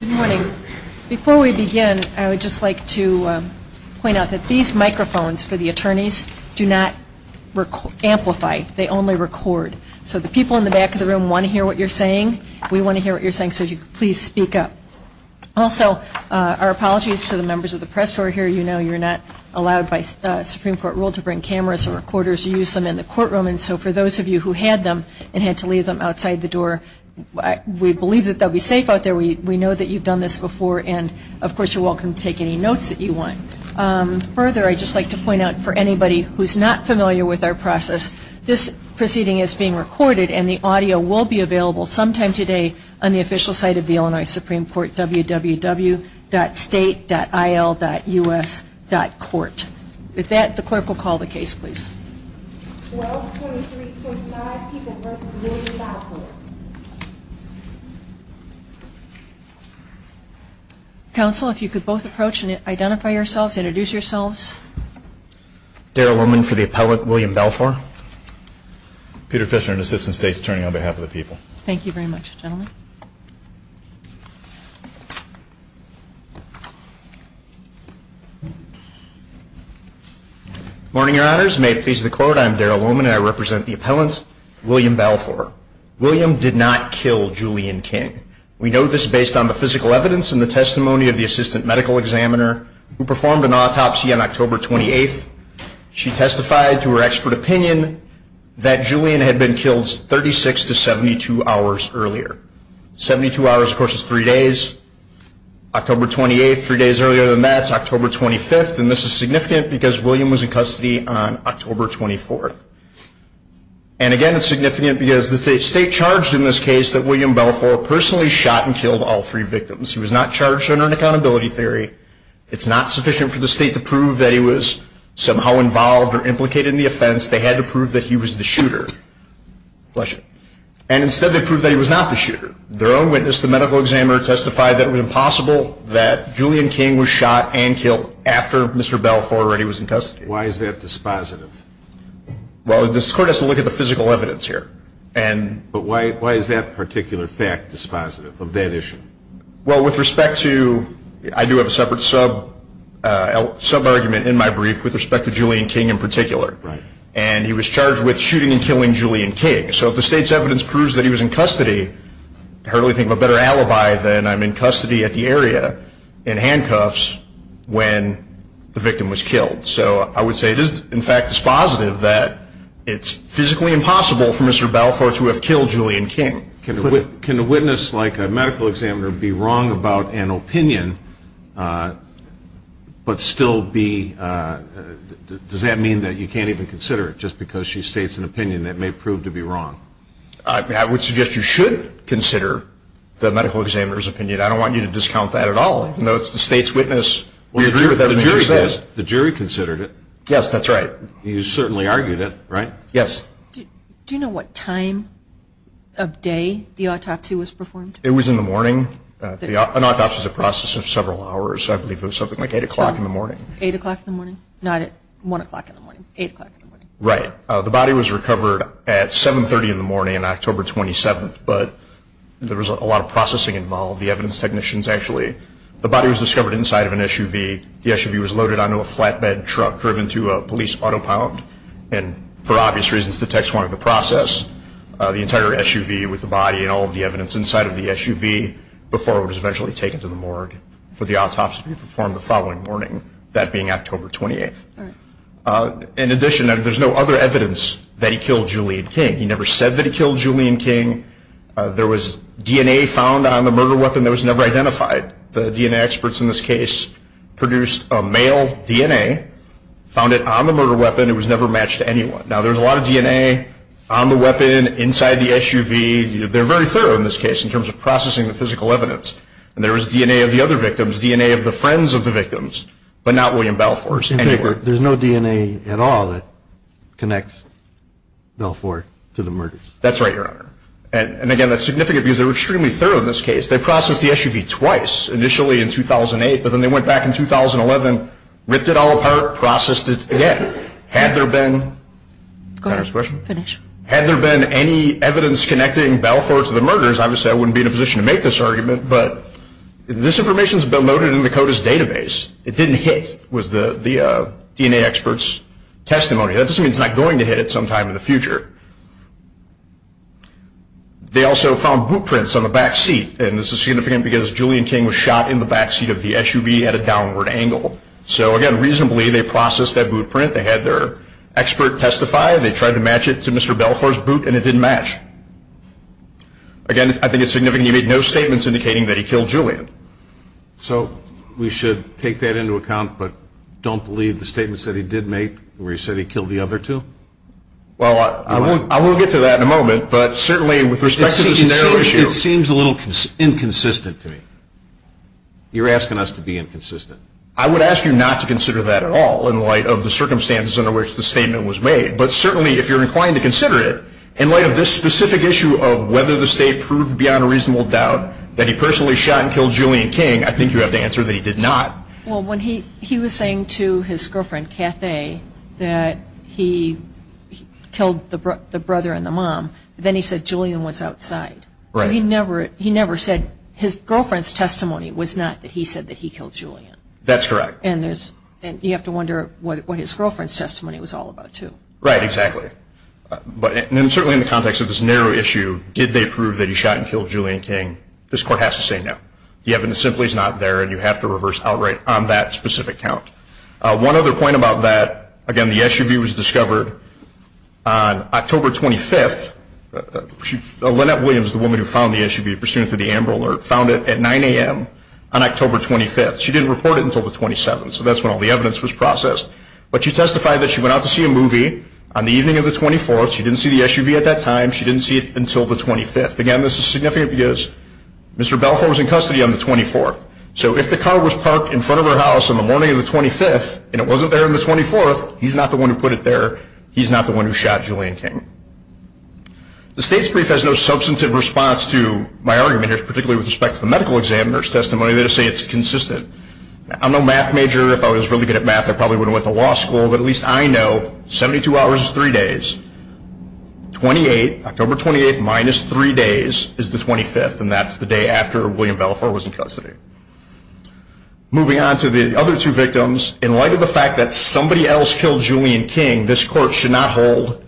Good morning. Before we begin, I would just like to point out that these microphones for the attorneys do not amplify. They only record. So the people in the back of the room want to hear what you're saying. We want to hear what you're saying, so please speak up. Also, our apologies to the members of the press who are here. You know you're not allowed by Supreme Court rule to bring cameras and recorders. You use them in the courtroom, and so for those of you who had them and had to leave them outside the door, we believe that they'll be safe out there. We know that you've done this before, and of course you're welcome to take any notes that you want. Further, I'd just like to point out for anybody who's not familiar with our process, this proceeding is being recorded and the audio will be available sometime today on the official site of the Illinois Supreme Court, www.state.il.us.court. If that, the clerk will call the case, please. Counsel, if you could both approach and identify yourselves, introduce yourselves. Darrell Roman for the appellant, William Balfour. Peter Fisher, an assistant state attorney on behalf of the people. Thank you very much, gentlemen. Morning, your honors. May it please the court, I'm Darrell Roman, and I represent the appellant, William Balfour. William did not kill Julian King. We know this based on the physical evidence and the testimony of the assistant medical examiner who performed an autopsy on October 28th. She testified to her expert opinion that Julian had been killed 36 to 72 hours earlier. 72 hours, of course, is three days. October 28th, three days earlier than that, is October 25th, and this is significant because William was in custody on October 24th. And again, it's significant because the state charged in this case that William Balfour personally shot and killed all three victims. He was not charged under an accountability theory. It's not sufficient for the state to prove that he was somehow involved or implicated in the offense. They had to prove that he was the shooter. And instead they proved that he was not the shooter. Their own witness, the medical examiner, testified that it was impossible that Julian King was shot and killed after Mr. Balfour already was in custody. Why is that dispositive? Well, this court has to look at the physical evidence here. But why is that particular fact dispositive of that issue? Well, with respect to – I do have a separate sub-argument in my brief with respect to Julian King in particular. And he was charged with shooting and killing Julian King. So if the state's evidence proves that he was in custody, I can hardly think of a better alibi than I'm in custody at the area in handcuffs when the victim was killed. So I would say it is, in fact, dispositive that it's physically impossible for Mr. Balfour to have killed Julian King. Can a witness like a medical examiner be wrong about an opinion but still be – does that mean that you can't even consider it just because she states an opinion that may prove to be wrong? I would suggest you should consider the medical examiner's opinion. I don't want you to discount that at all. No, it's the state's witness. We agree with that. The jury considered it. Yes, that's right. You certainly argued it, right? Yes. Do you know what time of day the autopsy was performed? It was in the morning. An autopsy is a process of several hours. I believe it was something like 8 o'clock in the morning. 8 o'clock in the morning? Not at 1 o'clock in the morning. 8 o'clock in the morning. Right. The body was recovered at 7.30 in the morning on October 27th. But there was a lot of processing involved. All of the evidence technicians actually. The body was discovered inside of an SUV. The SUV was loaded onto a flatbed truck driven to a police auto pound. And for obvious reasons, the techs wanted to process the entire SUV with the body and all of the evidence inside of the SUV before it was eventually taken to the morgue for the autopsy to be performed the following morning, that being October 28th. In addition, there's no other evidence that he killed Julian King. He never said that he killed Julian King. There was DNA found on the murder weapon that was never identified. The DNA experts in this case produced a male DNA, found it on the murder weapon. It was never matched to anyone. Now, there's a lot of DNA on the weapon inside the SUV. They're very thorough in this case in terms of processing the physical evidence. And there was DNA of the other victims, DNA of the friends of the victims, but not William Belfort's. There's no DNA at all that connects Belfort to the murder. That's right here. And, again, that's significant because they were extremely thorough in this case. They processed the SUV twice, initially in 2008, but then they went back in 2011, ripped it all apart, processed it again. Had there been any evidence connecting Belfort to the murders, I would say I wouldn't be in a position to make this argument, but this information's been loaded into the CODIS database. It didn't hit with the DNA experts' testimony. That doesn't mean it's not going to hit at some time in the future. They also found boot prints on the back seat, and this is significant because Julian King was shot in the back seat of the SUV at a downward angle. So, again, reasonably, they processed that boot print. They had their expert testify. They tried to match it to Mr. Belfort's boot, and it didn't match. Again, I think it's significant. He made no statements indicating that he killed Julian. So we should take that into account, but don't believe the statements that he did make where he said he killed the other two? Well, I won't get to that in a moment, but certainly with respect to the situation, It seems a little inconsistent to me. You're asking us to be inconsistent. I would ask you not to consider that at all in light of the circumstances under which the statement was made, but certainly if you're inclined to consider it in light of this specific issue of whether the state proved beyond a reasonable doubt that he personally shot and killed Julian King, I think you have to answer that he did not. Well, when he was saying to his girlfriend, Kathy, that he killed the brother and the mom, then he said Julian was outside. He never said his girlfriend's testimony was not that he said that he killed Julian. That's correct. And you have to wonder what his girlfriend's testimony was all about, too. Right, exactly. And certainly in the context of this narrow issue, did they prove that he shot and killed Julian King, this court has to say no. It simply is not there, and you have to reverse outright on that specific count. One other point about that, again, the SUV was discovered on October 25th. Lynette Williams, the woman who found the SUV, pursuant to the Amber Alert, found it at 9 a.m. on October 25th. She didn't report it until the 27th, so that's when all the evidence was processed. But she testified that she went out to see a movie on the evening of the 24th. She didn't see the SUV at that time. She didn't see it until the 25th. Again, this is significant because Mr. Belfort was in custody on the 24th. So if the car was parked in front of her house on the morning of the 25th and it wasn't there on the 24th, he's not the one who put it there. He's not the one who shot Julian King. The state's brief has no substantive response to my argument here, particularly with respect to the medical examiner's testimony. They just say it's consistent. I'm no math major. If I was really good at math, I probably wouldn't have went to law school. But at least I know 72 hours is three days. October 28th minus three days is the 25th, and that's the day after William Belfort was in custody. Moving on to the other two victims, in light of the fact that somebody else killed Julian King, this court should not hold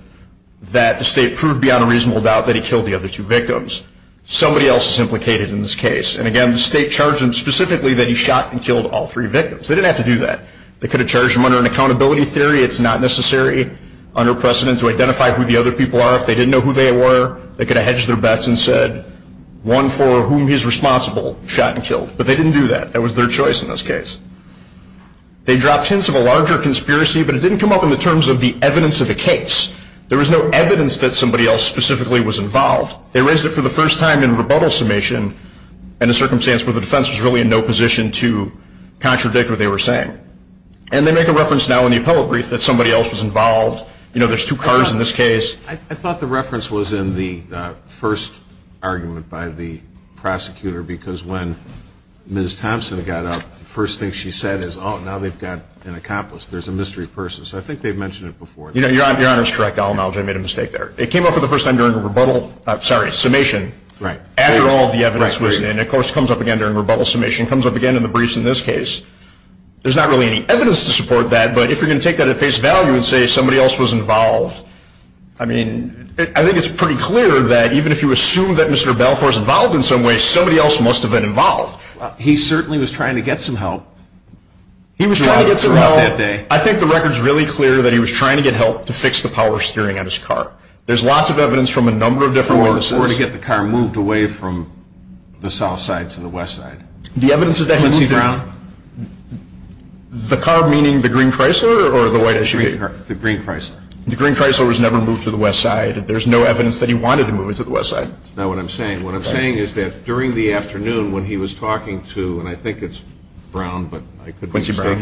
that the state proved beyond a reasonable doubt that he killed the other two victims. Somebody else is implicated in this case. And, again, the state charged him specifically that he shot and killed all three victims. They didn't have to do that. They could have charged him under an accountability theory. It's not necessary under precedent to identify who the other people are. If they didn't know who they were, they could have hedged their bets and said, one for whom he's responsible shot and killed. But they didn't do that. That was their choice in this case. They dropped hints of a larger conspiracy, but it didn't come up in the terms of the evidence of the case. There was no evidence that somebody else specifically was involved. They raised it for the first time in rebuttal submission in a circumstance where the defense was really in no position to contradict what they were saying. And they make a reference now in the appellate brief that somebody else was involved. You know, there's two cars in this case. I thought the reference was in the first argument by the prosecutor, because when Ms. Thompson got up, the first thing she said is, oh, now they've got an accomplice. There's a mystery person. So I think they've mentioned it before. You know, Your Honor is correct. I'll acknowledge I made a mistake there. It came up for the first time during the rebuttal, sorry, summation. Right. After all the evidence was in. And, of course, it comes up again during rebuttal submission. It comes up again in the briefs in this case. There's not really any evidence to support that. But if you're going to take that at face value and say somebody else was involved, I mean, I think it's pretty clear that even if you assume that Mr. Balfour is involved in some way, somebody else must have been involved. He certainly was trying to get some help. He was trying to get some help. I think the record's really clear that he was trying to get help to fix the power steering on his car. There's lots of evidence from a number of different witnesses. Or to get the car moved away from the south side to the west side. The evidence is that he moved around. Quincy Brown. The car meaning the green Chrysler or the white SUV? The green Chrysler. The green Chrysler was never moved to the west side. There's no evidence that he wanted to move it to the west side. That's not what I'm saying. What I'm saying is that during the afternoon when he was talking to, and I think it's Brown, but I could be mistaken.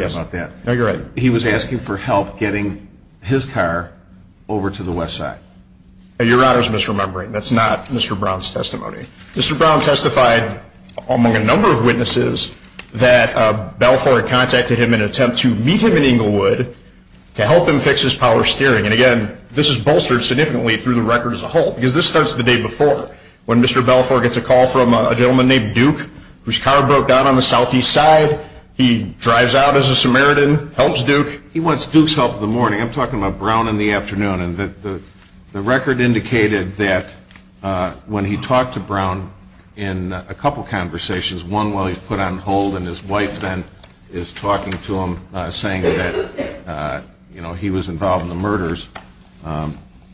No, you're right. He was asking for help getting his car over to the west side. Your Honor's misremembering. That's not Mr. Brown's testimony. Mr. Brown testified among a number of witnesses that Balfour had contacted him in an attempt to meet him in Englewood to help him fix his power steering. And, again, this is bolstered significantly through the record as a whole. Because this starts the day before when Mr. Balfour gets a call from a gentleman named Duke, whose car broke down on the southeast side. He drives out as a Samaritan, helps Duke. He wants Duke's help in the morning. I'm talking about Brown in the afternoon. And the record indicated that when he talked to Brown in a couple conversations, one while he was put on hold and his wife then is talking to him, saying that he was involved in the murders,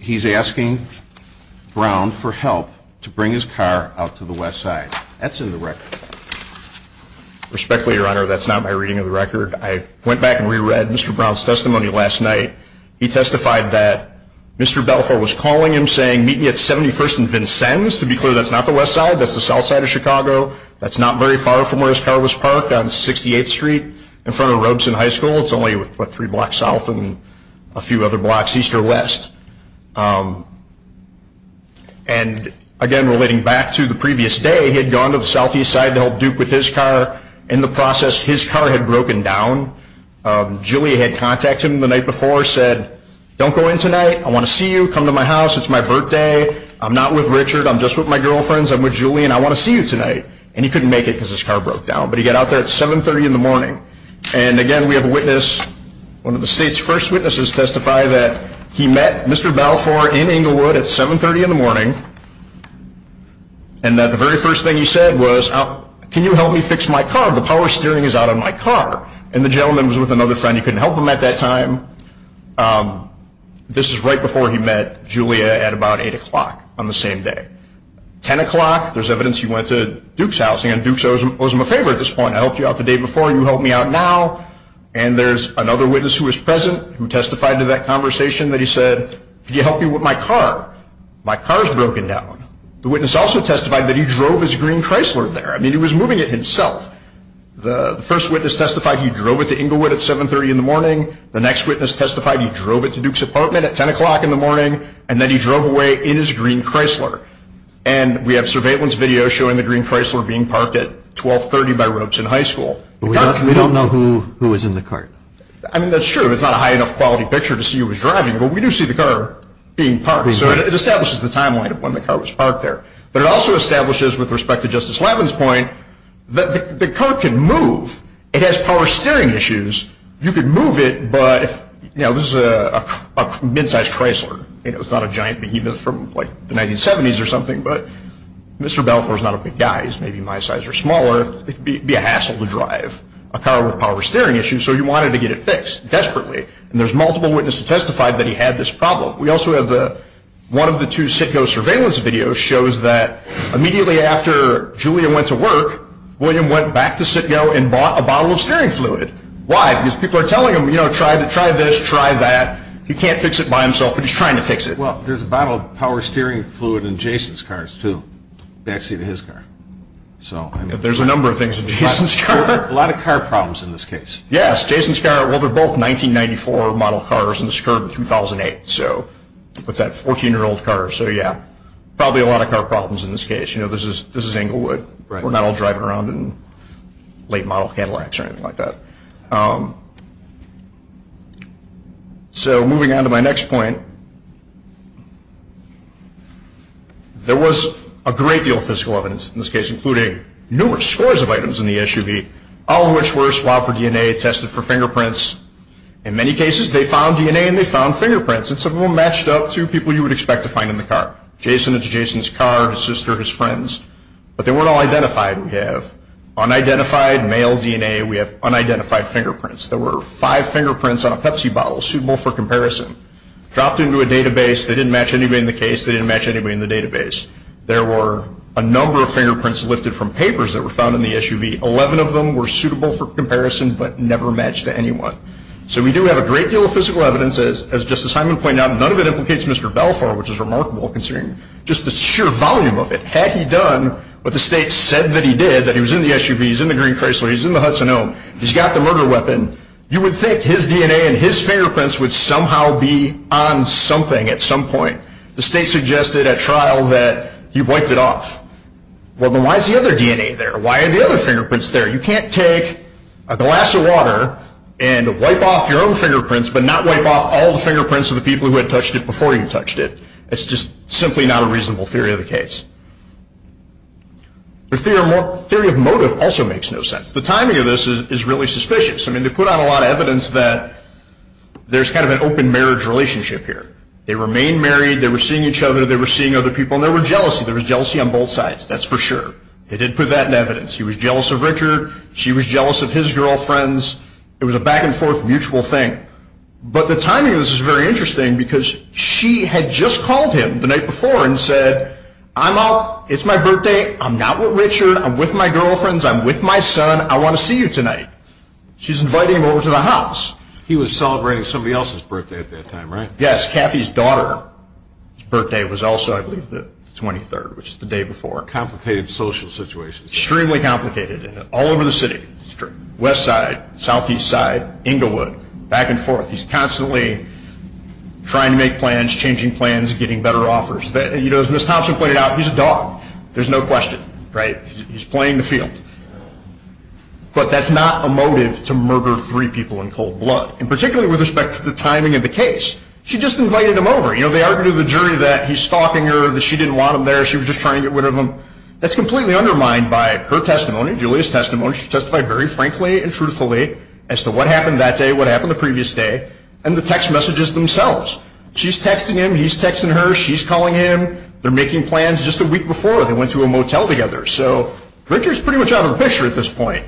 he's asking Brown for help to bring his car out to the west side. That's in the record. Respectfully, Your Honor, that's not my reading of the record. I went back and reread Mr. Brown's testimony last night. He testified that Mr. Balfour was calling him, saying, meet me at 71st and Vincennes. To be clear, that's not the west side. That's the south side of Chicago. That's not very far from where his car was parked on 68th Street in front of Robeson High School. It's only about three blocks south and a few other blocks east or west. And, again, relating back to the previous day, he had gone to the southeast side to help Duke with his car. In the process, his car had broken down. Julie had contacted him the night before, said, don't go in tonight. I want to see you. Come to my house. It's my birthday. I'm not with Richard. I'm just with my girlfriends. I'm with Julie, and I want to see you tonight. And he couldn't make it because his car broke down. But he got out there at 730 in the morning. And, again, we have a witness, One of the state's first witnesses testified that he met Mr. Balfour in Englewood at 730 in the morning, and that the very first thing he said was, can you help me fix my car? The power steering is out on my car. And the gentleman was with another friend. He couldn't help him at that time. This is right before he met Julie at about 8 o'clock on the same day. 10 o'clock, there's evidence he went to Duke's house, and Duke's house was in my favor at this point. I helped you out the day before, and you helped me out now. And there's another witness who was present who testified to that conversation that he said, can you help me with my car? My car's broken down. The witness also testified that he drove his green Chrysler there. I mean, he was moving it himself. The first witness testified he drove it to Englewood at 730 in the morning. The next witness testified he drove it to Duke's apartment at 10 o'clock in the morning, and then he drove away in his green Chrysler. And we have surveillance video showing the green Chrysler being parked at 1230 by Roach in high school. We don't know who was in the car. I mean, that's true. It's not a high enough quality picture to see who was driving, but we do see the car being parked. So it establishes the timeline of when the car was parked there. But it also establishes, with respect to Justice Lavin's point, that the car can move. It has power steering issues. You can move it, but, you know, this is a mid-sized Chrysler. You know, it's not a giant behemoth from, like, the 1970s or something, but Mr. Belfer's not a big guy. He's maybe my size or smaller. It would be a hassle to drive a car with power steering issues, so he wanted to get it fixed, desperately. And there's multiple witnesses who testified that he had this problem. We also have one of the two Citgo surveillance videos shows that immediately after Julia went to work, William went back to Citgo and bought a bottle of steering fluid. Why? Because people are telling him, you know, try this, try that. He can't fix it by himself, but he's trying to fix it. Well, there's a bottle of power steering fluid in Jason's car, too, backseat of his car. There's a number of things. Jason's car. A lot of car problems in this case. Yes, Jason's car. Well, they're both 1994 model cars, and this occurred in 2008. So, with that 14-year-old car. So, yeah, probably a lot of car problems in this case. You know, this is Englewood. We're not all driving around in late model Cadillacs or anything like that. So, moving on to my next point. There was a great deal of physical evidence in this case, including numerous scores of items in the SUV, all of which were swabbed for DNA, tested for fingerprints. In many cases, they found DNA, and they found fingerprints, and some of them matched up to people you would expect to find in the car. Jason and Jason's car, his sister, his friends. But they weren't all identified, we have. Unidentified male DNA, we have unidentified fingerprints. There were five fingerprints on a Pepsi bottle, suitable for comparison. Dropped into a database. They didn't match anybody in the case. They didn't match anybody in the database. There were a number of fingerprints lifted from papers that were found in the SUV. Eleven of them were suitable for comparison, but never matched to anyone. So, we do have a great deal of physical evidence. As Justice Hyman pointed out, none of it implicates Mr. Balfour, which is remarkable considering just the sheer volume of it. Had he done what the state said that he did, that he was in the SUV, he's in the green Chrysler, he's in the Hudson Elm, he's got the murder weapon, you would think his DNA and his fingerprints would somehow be on something at some point. The state suggested at trial that he wiped it off. Well, then why is the other DNA there? Why are the other fingerprints there? You can't take a glass of water and wipe off your own fingerprints, but not wipe off all the fingerprints of the people who had touched it before you touched it. It's just simply not a reasonable theory of the case. The theory of motive also makes no sense. The timing of this is really suspicious. I mean, they put out a lot of evidence that there's kind of an open marriage relationship here. They remained married. They were seeing each other. They were seeing other people, and there was jealousy. There was jealousy on both sides. That's for sure. They did put that in evidence. He was jealous of Richard. She was jealous of his girlfriends. It was a back-and-forth mutual thing. But the timing of this is very interesting because she had just called him the night before and said, I'm up. It's my birthday. I'm not with Richard. I'm with my girlfriends. I'm with my son. I want to see you tonight. She's inviting him over to the house. He was celebrating somebody else's birthday at that time, right? Yes, Kathy's daughter's birthday was also, I believe, the 23rd, which is the day before. Complicated social situation. Extremely complicated. All over the city. That's true. West side, southeast side, Inglewood, back and forth. He's constantly trying to make plans, changing plans, getting better offers. As Ms. Thompson pointed out, he's a dog. There's no question. Right? He's playing the field. But that's not a motive to murder three people in cold blood, particularly with respect to the timing of the case. She just invited him over. You know, they argued with the jury that he's stalking her, that she didn't want him there, she was just trying to get rid of him. That's completely undermined by her testimony, Julia's testimony. She testified very frankly and truthfully as to what happened that day, what happened the previous day, and the text messages themselves. She's texting him. He's texting her. She's calling him. They're making plans just a week before. They went to a motel together. So Richard's pretty much out of the picture at this point.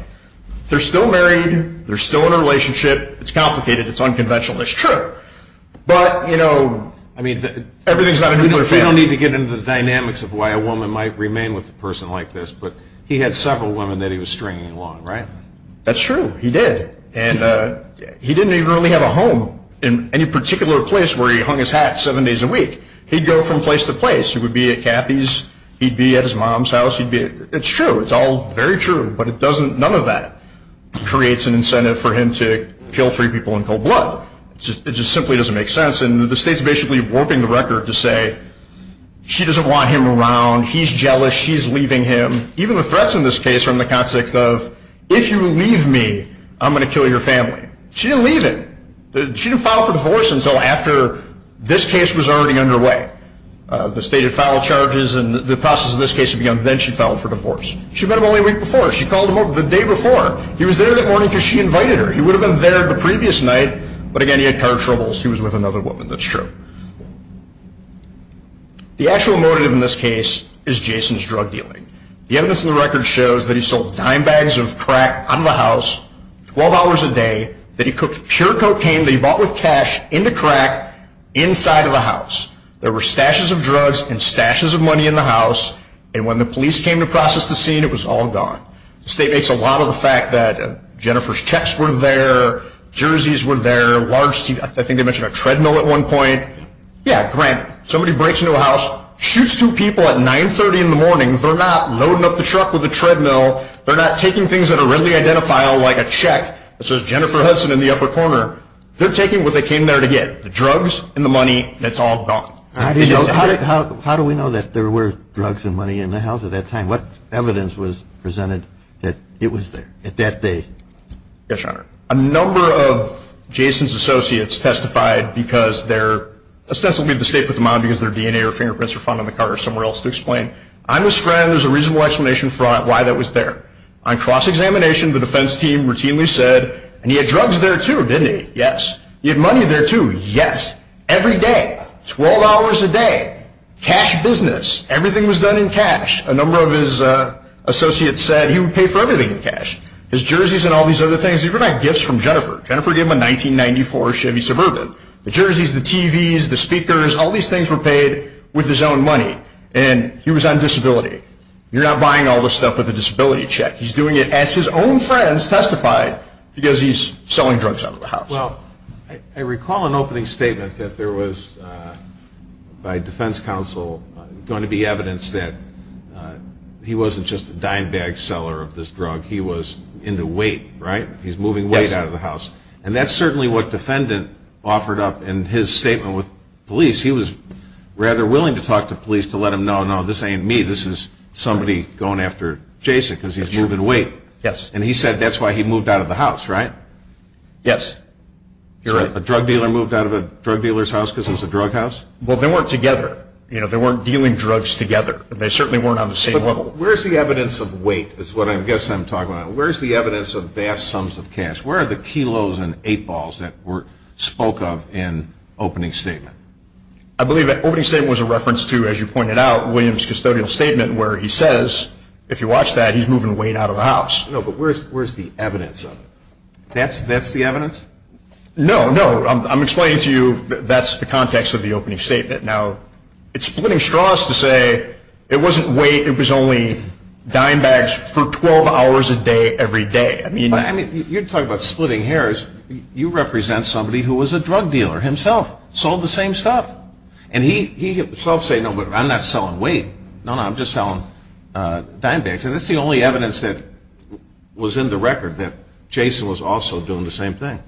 They're still married. They're still in a relationship. It's complicated. It's unconventional. It's true. But, you know, I mean, everything's not in his favor. We don't need to get into the dynamics of why a woman might remain with a person like this, but he had several women that he was stringing along, right? That's true. He did. And he didn't even really have a home in any particular place where he hung his hat seven days a week. He'd go from place to place. He would be at Kathy's. He'd be at his mom's house. It's true. It's all very true. But none of that creates an incentive for him to kill three people and fill blood. It just simply doesn't make sense. And the state's basically warping the record to say she doesn't want him around. He's jealous. She's leaving him. Even the threats in this case are in the context of if you leave me, I'm going to kill your family. She didn't leave him. She didn't file for divorce until after this case was already underway. The state had filed charges, and the process of this case had begun. Then she filed for divorce. She met him only a week before. She called him the day before. He was there that morning because she invited her. He would have been there the previous night, but again, he had car troubles. He was with another woman. That's true. The actual motive in this case is Jason's drug dealing. The evidence in the record shows that he sold dime bags of crack out of the house, $12 a day, that he cooked pure cocaine that he bought with cash into crack inside of the house. There were stashes of drugs and stashes of money in the house, and when the police came to process the scene, it was all gone. The state makes a lot of the fact that Jennifer's checks were there, jerseys were there, large teeth. I think they mentioned a treadmill at one point. Yeah, great. Somebody breaks into a house, shoots two people at 930 in the morning. They're not loading up the truck with a treadmill. They're not taking things that are readily identifiable like a check. It says Jennifer Hudson in the upper corner. They're taking what they came there to get, the drugs and the money, and it's all gone. How do we know that there were drugs and money in the house at that time? What evidence was presented that it was there at that date? Yes, Your Honor. A number of Jason's associates testified because they're, ostensibly the state put them on because their DNA or fingerprints are found on the car or somewhere else to explain. I'm a friend. There's a reasonable explanation for why that was there. On cross-examination, the defense team routinely said, and he had drugs there, too, didn't he? Yes. He had money there, too. Yes. Every day. $12 a day. Cash business. Everything was done in cash. A number of his associates said he would pay for everything in cash. His jerseys and all these other things. These were not gifts from Jennifer. Jennifer gave him a 1994 Chevy Suburban. The jerseys, the TVs, the speakers, all these things were paid with his own money, and he was on disability. You're not buying all this stuff with a disability check. He's doing it as his own friends testified because he's selling drugs out of the house. Well, I recall an opening statement that there was, by defense counsel, going to be evidence that he wasn't just a dime bag seller of this drug. He was into weight, right? He's moving weight out of the house. Yes. And that's certainly what the defendant offered up in his statement with police. He was rather willing to talk to police to let them know, no, this ain't me. This is somebody going after Jason because he's moving weight. Yes. And he said that's why he moved out of the house, right? Yes. A drug dealer moved out of a drug dealer's house because it was a drug house? Well, they weren't together. They weren't dealing drugs together. They certainly weren't on the same level. Where's the evidence of weight is what I guess I'm talking about. Where's the evidence of vast sums of cash? Where are the kilos and eight balls that were spoke of in opening statement? I believe that opening statement was a reference to, as you pointed out, Williams' custodial statement where he says, if you watch that, he's moving weight out of the house. No, but where's the evidence of it? That's the evidence? No, no. I'm explaining to you that's the context of the opening statement. Now, it's splitting straws to say it wasn't weight. It was only dine bags for 12 hours a day every day. You're talking about splitting hairs. You represent somebody who was a drug dealer himself. Sold the same stuff. And he himself said, no, I'm not selling weight. No, no, I'm just selling dine bags. Is this the only evidence that was in the record that Jason was also doing the same thing?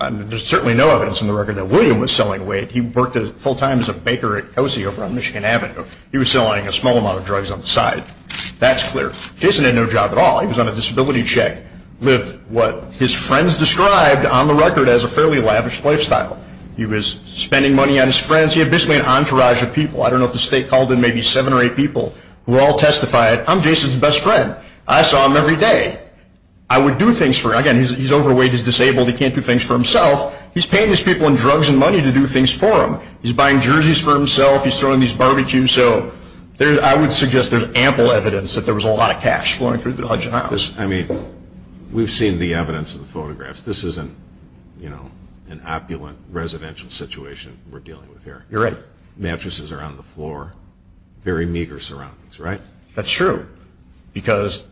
There's certainly no evidence in the record that William was selling weight. He worked full-time as a baker at Cozy over on Michigan Avenue. He was selling a small amount of drugs on the side. That's clear. Jason had no job at all. He was on a disability check. Lived what his friends described on the record as a fairly lavish lifestyle. He was spending money on his friends. He had basically an entourage of people. I don't know if the state called in maybe seven or eight people who all testified, I'm Jason's best friend. I saw him every day. I would do things for him. Again, he's overweight. He's disabled. He can't do things for himself. He's paying his people in drugs and money to do things for him. He's buying jerseys for himself. He's throwing these barbecues. So I would suggest there's ample evidence that there was a lot of cash flowing through the budget. I mean, we've seen the evidence in the photographs. This isn't, you know, an opulent residential situation we're dealing with here. You're right. Mattresses are on the floor. Very meager surroundings, right? That's true. Because,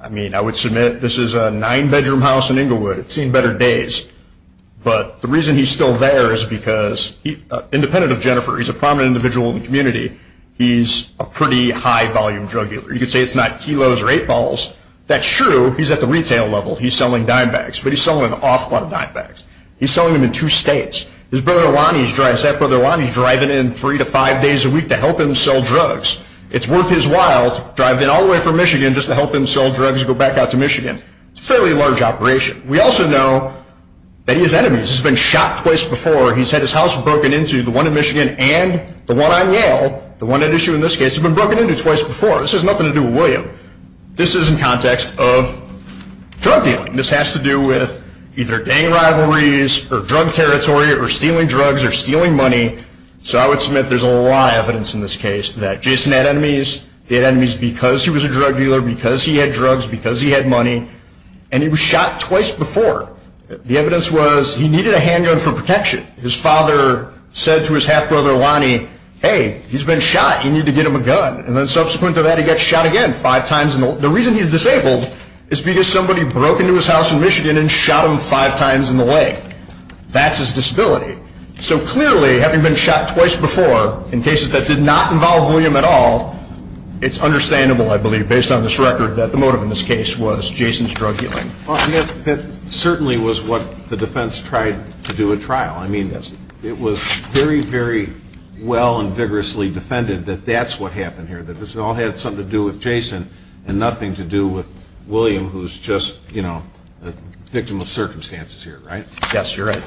I mean, I would submit this is a nine-bedroom house in Inglewood. It's seen better days. But the reason he's still there is because, independent of Jennifer, he's a prominent individual in the community, he's a pretty high-volume drug dealer. You could say it's not kilos or eight balls. That's true. He's at the retail level. He's selling dime bags. But he's selling an awful lot of dime bags. He's selling them in two states. His brother Juan, his stepbrother Juan, he's driving in three to five days a week to help him sell drugs. It's worth his while to drive in all the way from Michigan just to help him sell drugs and go back out to Michigan. It's a fairly large operation. We also know that he has enemies. He's been shot twice before. He's had his house broken into, the one in Michigan and the one on Yale, the one at issue in this case, has been broken into twice before. This has nothing to do with William. This is in context of drug dealing. This has to do with either gang rivalries or drug territory or stealing drugs or stealing money. So I would submit there's a lot of evidence in this case that Jason had enemies. He had enemies because he was a drug dealer, because he had drugs, because he had money. And he was shot twice before. The evidence was he needed a handgun for protection. His father said to his half-brother Lonnie, hey, he's been shot. You need to get him a gun. And then subsequent to that, he got shot again five times. The reason he's disabled is because somebody broke into his house in Michigan and shot him five times in the leg. That's his disability. So clearly, having been shot twice before in cases that did not involve William at all, it's understandable, I believe, based on this record, that the motive in this case was Jason's drug dealing. Well, I guess it certainly was what the defense tried to do at trial. I mean, it was very, very well and vigorously defended that that's what happened here, that this all had something to do with Jason and nothing to do with William, who's just, you know, a victim of circumstances here, right? Yes, you're right.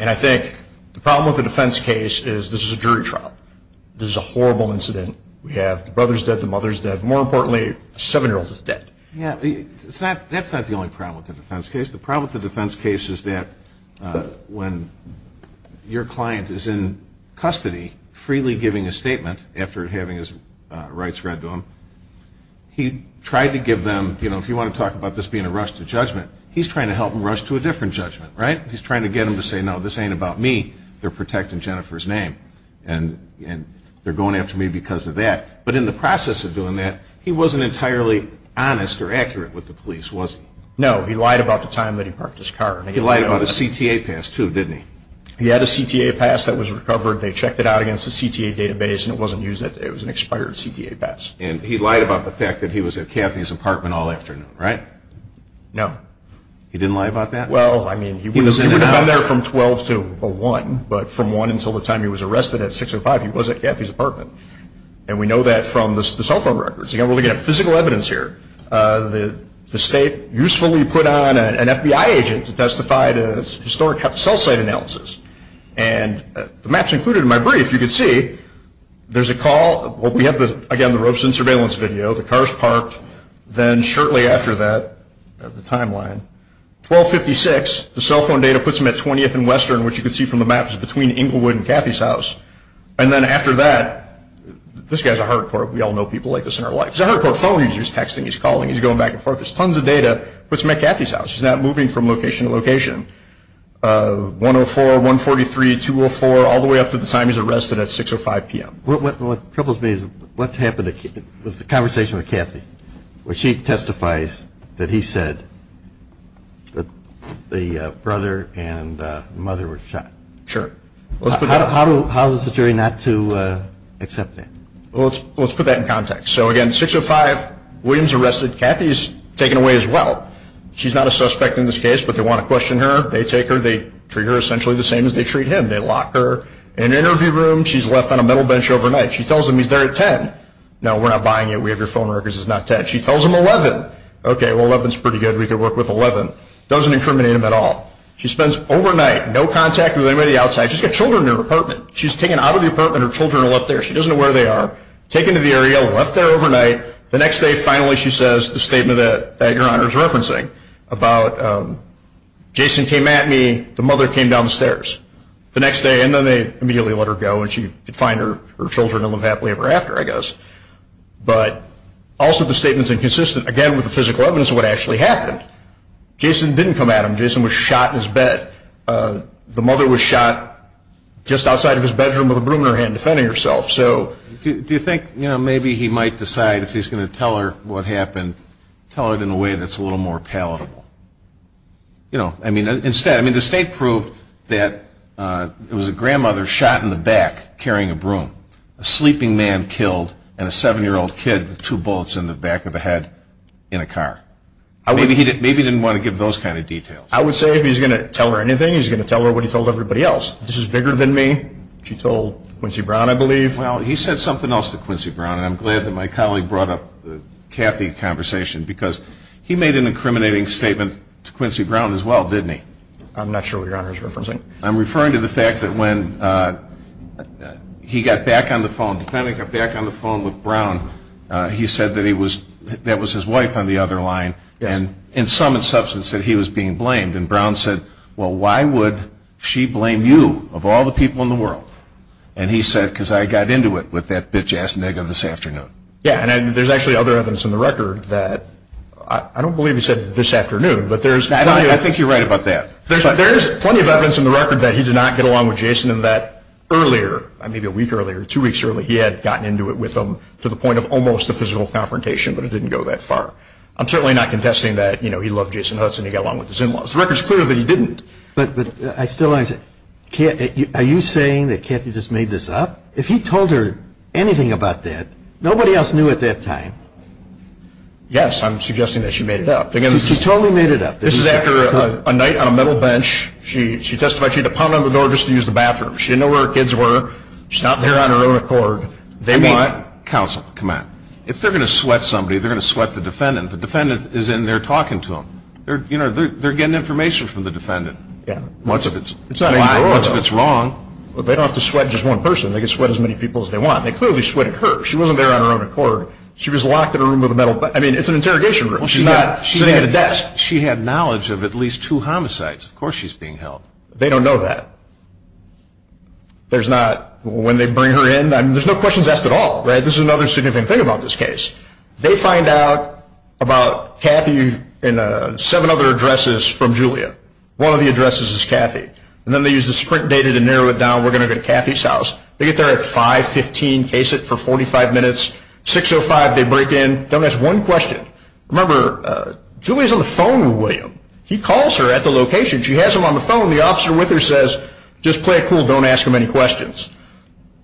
And I think the problem with the defense case is this is a jury trial. This is a horrible incident. We have the brother's dead, the mother's dead. More importantly, a seven-year-old is dead. Yeah, that's not the only problem with the defense case. The problem with the defense case is that when your client is in custody, freely giving a statement after having his rights read to him, he tried to give them, you know, if you want to talk about this being a rush to judgment, he's trying to help them rush to a different judgment, right? He's trying to get them to say, no, this ain't about me. They're protecting Jennifer's name, and they're going after me because of that. But in the process of doing that, he wasn't entirely honest or accurate with the police, was he? No, he lied about the time that he parked his car. He lied about his CTA pass, too, didn't he? He had a CTA pass that was recovered. They checked it out against the CTA database, and it wasn't used. It was an expired CTA pass. And he lied about the fact that he was at Kathy's apartment all afternoon, right? No. He didn't lie about that? Well, I mean, he was down there from 12 to 1, but from 1 until the time he was arrested at 6 or 5, he wasn't at Kathy's apartment. And we know that from the cell phone records. You've got to look at the physical evidence here. The state usefully put on an FBI agent to testify to historic cell site analysis. And the maps included in my brief, you can see there's a call. Well, we have, again, the ropes and surveillance video. The car's parked. Then shortly after that, the timeline, 1256, the cell phone data puts him at 20th and Western, which you can see from the maps is between Inglewood and Kathy's house. And then after that, this guy's a hard core. We all know people like this in our life. He's a hard core phone user. He's texting, he's calling, he's going back and forth. There's tons of data. Puts him at Kathy's house. He's not moving from location to location. 104, 143, 204, all the way up to the time he was arrested at 6 or 5 p.m. What troubles me is what happened with the conversation with Kathy, where she testifies that he said that the brother and the mother were shot. Sure. How is the jury not to accept that? Well, let's put that in context. So, again, 6 or 5, Williams arrested. Kathy's taken away as well. She's not a suspect in this case, but they want to question her. They take her. They treat her essentially the same as they treat him. They lock her in an interview room. She's left on a metal bench overnight. She tells him he's there at 10. No, we're not buying it. We have your phone records. It's not 10. She tells him 11. Okay, well, 11's pretty good. We could work with 11. Doesn't incriminate him at all. She spends overnight, no contact with anybody outside. She's got children in her apartment. She's taken out of the apartment. Her children are left there. She doesn't know where they are. Taken to the area, left there overnight. The next day, finally, she says the statement that your honor is referencing about Jason came at me, the mother came down the stairs. The next day, and then they immediately let her go, and she could find her children and live happily ever after, I guess. But also the statement's inconsistent, again, with the physical evidence of what actually happened. Jason didn't come at him. Jason was shot in his bed. The mother was shot just outside of his bedroom with a broom in her hand defending herself. Do you think maybe he might decide if he's going to tell her what happened, tell her in a way that's a little more palatable? You know, I mean, instead, I mean, the state proved that it was a grandmother shot in the back carrying a broom, a sleeping man killed, and a 70-year-old kid with two bullets in the back of the head in a car. Maybe he didn't want to give those kind of details. I would say if he's going to tell her anything, he's going to tell her what he told everybody else. This is bigger than me. She told Quincy Brown, I believe. Well, he said something else to Quincy Brown, and I'm glad that my colleague brought up the Cathy conversation, because he made an incriminating statement to Quincy Brown as well, didn't he? I'm not sure what you're referencing. I'm referring to the fact that when he got back on the phone, the time he got back on the phone with Brown, he said that he was, that was his wife on the other line, and in some substance, that he was being blamed. And Brown said, well, why would she blame you of all the people in the world? And he said, because I got into it with that bitch-ass nigger this afternoon. Yeah, and there's actually other evidence in the record that, I don't believe he said this afternoon, but there's plenty of evidence. I think you're right about that. There's plenty of evidence in the record that he did not get along with Jason and that earlier, maybe a week earlier, two weeks earlier, he had gotten into it with him to the point of almost a physical confrontation, but it didn't go that far. I'm certainly not contesting that, you know, he loved Jason Hutz and he got along with his in-laws. The record's clear that he didn't. But I still understand. Are you saying that Cathy just made this up? If he told her anything about that, nobody else knew at that time. Yes, I'm suggesting that she made it up. She totally made it up. This is after a night on a metal bench. She testified she had to pound on the door just to use the bathroom. She didn't know where her kids were. She's out there on her own record. Come on, counsel, come on. If they're going to sweat somebody, they're going to sweat the defendant. The defendant is in there talking to them. You know, they're getting information from the defendant. Once it's right, once it's wrong. But they don't have to sweat just one person. They can sweat as many people as they want. They clearly sweated her. She wasn't there on her own record. She was locked in a room with a metal bench. I mean, it's an interrogation room. She's not sitting at a desk. She had knowledge of at least two homicides. Of course she's being held. They don't know that. There's not, when they bring her in, there's no questions asked at all. This is another significant thing about this case. They find out about Cathy in seven other addresses from Julia. One of the addresses is Cathy. And then they use this quick data to narrow it down. We're going to go to Cathy's house. They get there at 515. Case it for 45 minutes. 605, they break in. Don't ask one question. Remember, Julia's on the phone with William. He calls her at the location. She has him on the phone. The officer with her says, just play it cool. Don't ask him any questions.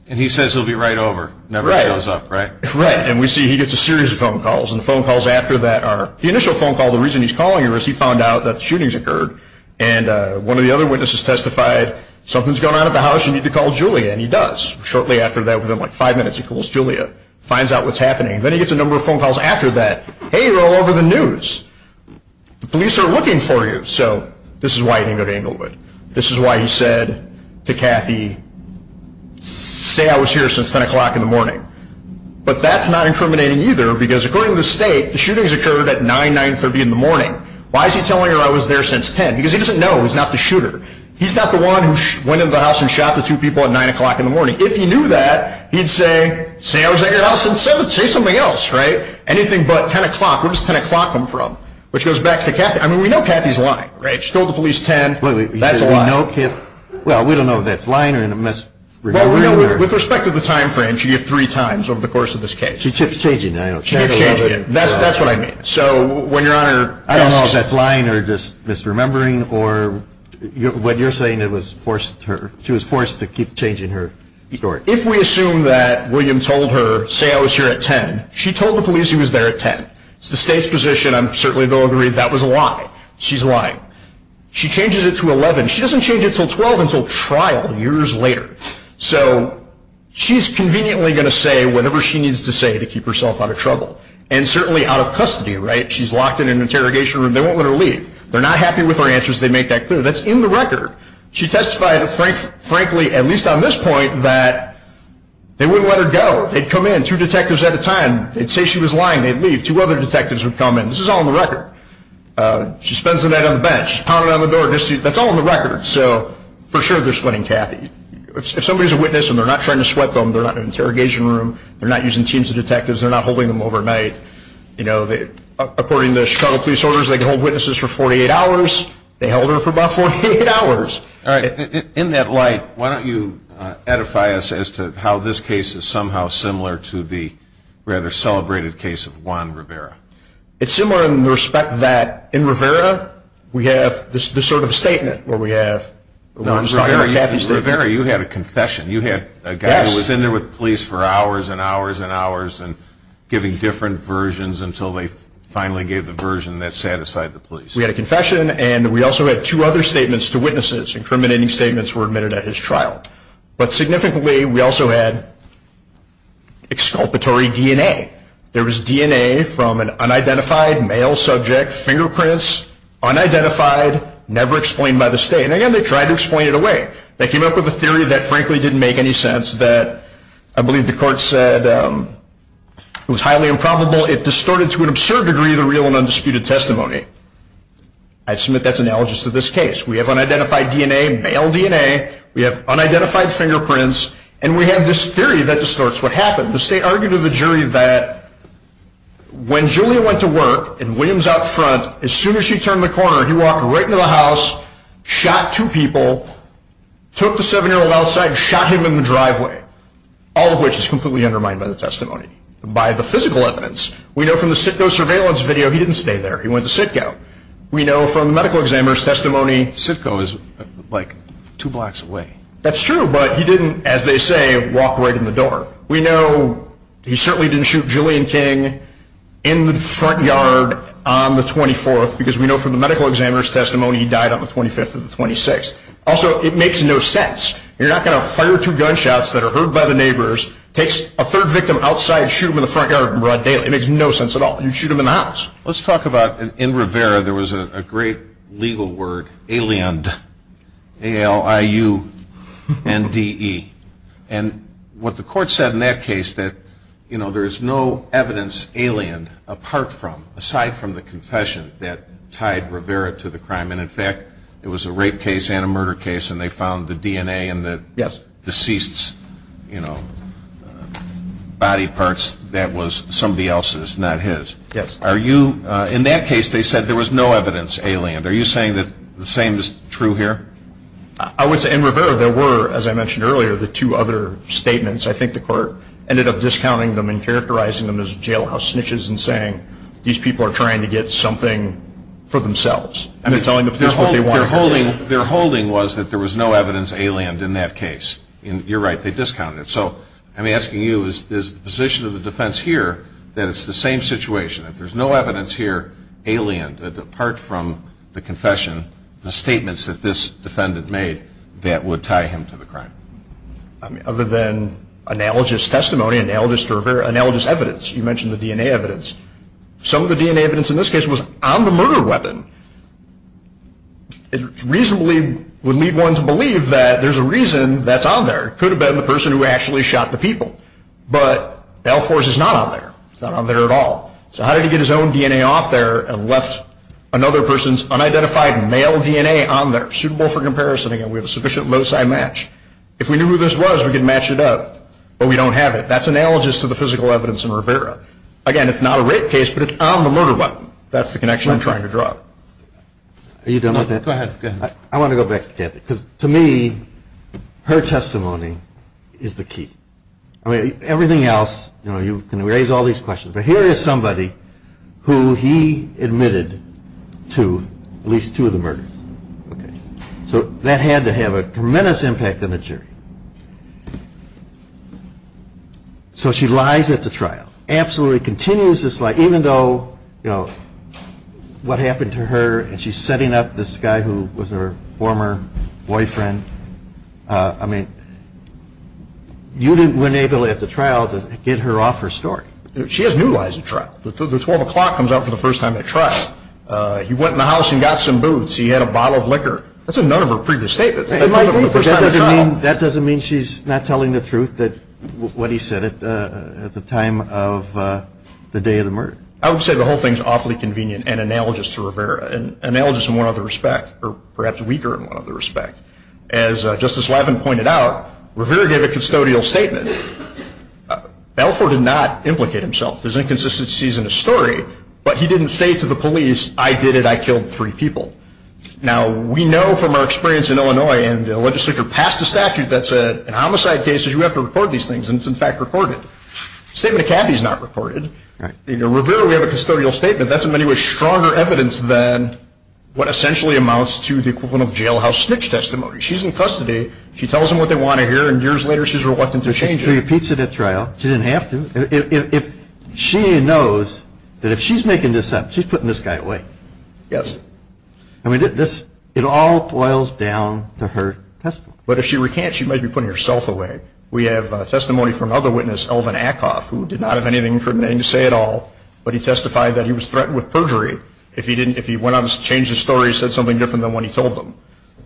And he says he'll be right over. Right. Right. And we see he gets a series of phone calls. And the phone calls after that are, the initial phone call, the reason he's calling her is he found out that shootings occurred. And one of the other witnesses testified, something's going on at the house. You need to call Julia. And he does. Shortly after that, within like five minutes, he calls Julia. Finds out what's happening. Then he gets a number of phone calls after that. Hey, you're all over the news. The police are looking for you. So this is why he didn't get angled with. This is why he said to Cathy, say I was here since 10 o'clock in the morning. But that's not incriminating either, because according to the state, the shootings occurred at 9, 930 in the morning. Why is he telling her I was there since 10? Because he doesn't know. He's not the shooter. He's not the one who went into the house and shot the two people at 9 o'clock in the morning. If he knew that, he'd say, say I was at your house at 7, say something else. Right? Anything but 10 o'clock. Where does 10 o'clock come from? Which goes back to Cathy. I mean, we know Cathy's lying. Right? She told the police 10. That's a lie. Well, we don't know if that's lying or a misunderstanding. With respect to the time frame, she gave three times over the course of this case. She kept changing it. I don't know. She kept changing it. That's what I meant. I don't know if that's lying or just misremembering or what you're saying that she was forced to keep changing her story. If we assume that William told her, say I was here at 10, she told the police he was there at 10. It's the state's position. I'm certainly going to agree that that was a lie. She's lying. She changes it to 11. She doesn't change it until 12 until trial years later. So, she's conveniently going to say whatever she needs to say to keep herself out of trouble. And certainly out of custody, right? She's locked in an interrogation room. They won't let her leave. They're not happy with her answers. They make that clear. That's in the record. She testified, frankly, at least on this point, that they wouldn't let her go. They'd come in, two detectives at a time. They'd say she was lying. They'd leave. Two other detectives would come in. This is all in the record. She spends the night on the bench. She's pounding on the door. That's all in the record. So, for sure, they're splitting Cathy. If somebody's a witness and they're not trying to sweat them, they're not in an interrogation room. They're not using teams of detectives. They're not holding them overnight. You know, according to the Chicago police orders, they can hold witnesses for 48 hours. They held her for about 48 hours. All right. In that light, why don't you edify us as to how this case is somehow similar to the rather celebrated case of Juan Rivera. It's similar in the respect that in Rivera, we have this sort of statement where we have Juan's lawyer, Cathy's lawyer. In Rivera, you had a confession. You had a guy who was in there with the police for hours and hours and hours and giving different versions until they finally gave the version that satisfied the police. We had a confession, and we also had two other statements to witnesses, incriminating statements were admitted at his trial. But significantly, we also had exculpatory DNA. There was DNA from an unidentified male subject, fingerprints, unidentified, never explained by the state. And again, they tried to explain it away. They came up with a theory that frankly didn't make any sense, that I believe the court said was highly improbable. It distorted to an absurd degree the real and undisputed testimony. I submit that's analogous to this case. We have unidentified DNA, male DNA. We have unidentified fingerprints, and we have this theory that distorts what happened. The state argued to the jury that when Julia went to work and Williams out front, as soon as she turned the corner, he walked right into the house, shot two people, took the seven-year-old outside, shot him in the driveway, all of which is completely undermined by the testimony, by the physical evidence. We know from the Sitco surveillance video, he didn't stay there. He went to Sitco. We know from the medical examiner's testimony, Sitco is like two blocks away. That's true, but he didn't, as they say, walk right in the door. We know he certainly didn't shoot Julian King in the front yard on the 24th, because we know from the medical examiner's testimony, he died on the 25th or the 26th. Also, it makes no sense. You're not going to fire two gunshots that are heard by the neighbors, take a third victim outside, shoot him in the front yard, and run dead. It makes no sense at all. You'd shoot him in the house. Let's talk about, in Rivera, there was a great legal word, aliand, A-L-I-U-N-D-E. What the court said in that case, that there is no evidence aliand apart from, aside from the confession that tied Rivera to the crime, and in fact, it was a rape case and a murder case, and they found the DNA and the deceased's body parts, that was somebody else's, not his. In that case, they said there was no evidence aliand. Are you saying that the same is true here? In Rivera, there were, as I mentioned earlier, the two other statements. I think the court ended up discounting them and characterizing them as jailhouse snitches and saying these people are trying to get something for themselves, and they're telling the police what they want to get. Their holding was that there was no evidence aliand in that case. You're right. They discounted it. So I'm asking you, is the position of the defense here that it's the same situation? If there's no evidence here aliand apart from the confession, the statements that this defendant made that would tie him to the crime? Other than analogous testimony, analogous evidence. You mentioned the DNA evidence. Some of the DNA evidence in this case was on the murder weapon. It reasonably would lead one to believe that there's a reason that's on there. It could have been the person who actually shot the people, but that, of course, is not on there. It's not on there at all. So how did he get his own DNA off there and left another person's unidentified male DNA on there? Suitable for comparison. We have a sufficient loci match. If we knew who this was, we could match it up. But we don't have it. That's analogous to the physical evidence in Rivera. Again, it's not a rape case, but it's on the murder weapon. That's the connection I'm trying to draw. Are you done with that? Go ahead. I want to go back to Kathy. To me, her testimony is the key. Everything else, you can raise all these questions, but here is somebody who he admitted to at least two of the murders. So that had to have a tremendous impact on the jury. So she lies at the trial, absolutely continues this lie, even though what happened to her and she's setting up this guy who was her former boyfriend. I mean, you weren't able at the trial to get her off her story. She has new lies at trial. The 12 o'clock comes up for the first time at trial. He went in the house and got some booze. He had a bottle of liquor. That's a note of her previous statement. That doesn't mean she's not telling the truth, what he said at the time of the day of the murder. I would say the whole thing is awfully convenient and analogous to Rivera, and analogous in one other respect, or perhaps weaker in one other respect. As Justice Laffin pointed out, Rivera gave a custodial statement. Balfour did not implicate himself. There's inconsistencies in the story, but he didn't say to the police, I did it, I killed three people. Now, we know from our experience in Illinois, and the legislature passed a statute that said in homicide cases, you have to report these things, and it's in fact reported. The statement of Caffey is not reported. In Rivera, we have a custodial statement. That's in many ways stronger evidence than what essentially amounts to the equivalent of jailhouse snitch testimony. She's in custody. She tells them what they want to hear, and years later she's reluctant to change it. She repeats it at trial. She didn't have to. She knows that if she's making this up, she's putting this guy away. Yes. I mean, it all boils down to her testimony. But if she recants, she might be putting herself away. We have testimony from another witness, Elvin Ackoff, who did not have anything incriminating to say at all, but he testified that he was threatened with perjury if he went on to change his story and said something different than what he told them.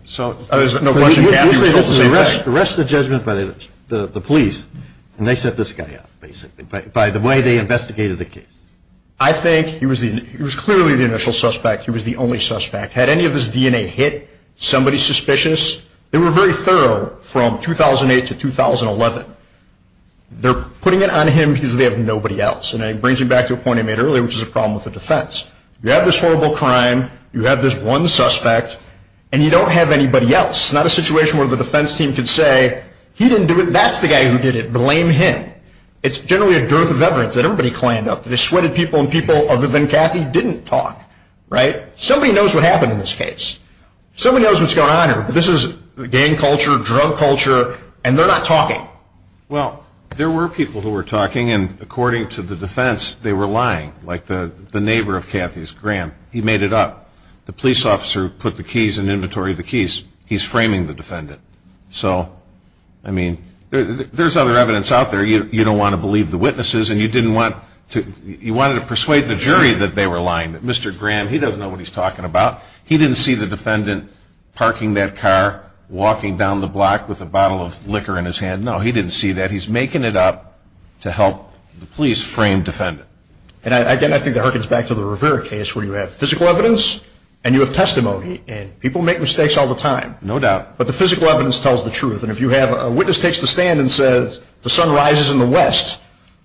The rest of the judgment is by the police, and they set this guy up, basically, by the way they investigated the case. I think he was clearly the initial suspect. He was the only suspect. Had any of his DNA hit somebody suspicious? They were very thorough from 2008 to 2011. They're putting it on him because they have nobody else, and it brings me back to a point I made earlier, which is a problem with the defense. You have this horrible crime. You have this one suspect. And you don't have anybody else. Not a situation where the defense team could say, he didn't do it. That's the guy who did it. Blame him. It's generally a growth of evidence that everybody cleaned up. They sweated people, and people other than Kathy didn't talk. Right? Somebody knows what happened in this case. Somebody knows what's going on here. This is gang culture, drug culture, and they're not talking. Well, there were people who were talking, and according to the defense, they were lying, like the neighbor of Kathy's, Graham. He made it up. The police officer put the keys in the inventory of the keys. He's framing the defendant. So, I mean, there's other evidence out there. You don't want to believe the witnesses, and you didn't want to persuade the jury that they were lying, that Mr. Graham, he doesn't know what he's talking about. He didn't see the defendant parking that car, walking down the block with a bottle of liquor in his hand. No, he didn't see that. He's making it up to help the police frame the defendant. And, again, I think that harkens back to the Rivera case where you have physical evidence and you have testimony, and people make mistakes all the time, no doubt, but the physical evidence tells the truth. And if you have a witness takes the stand and says, the sun rises in the west,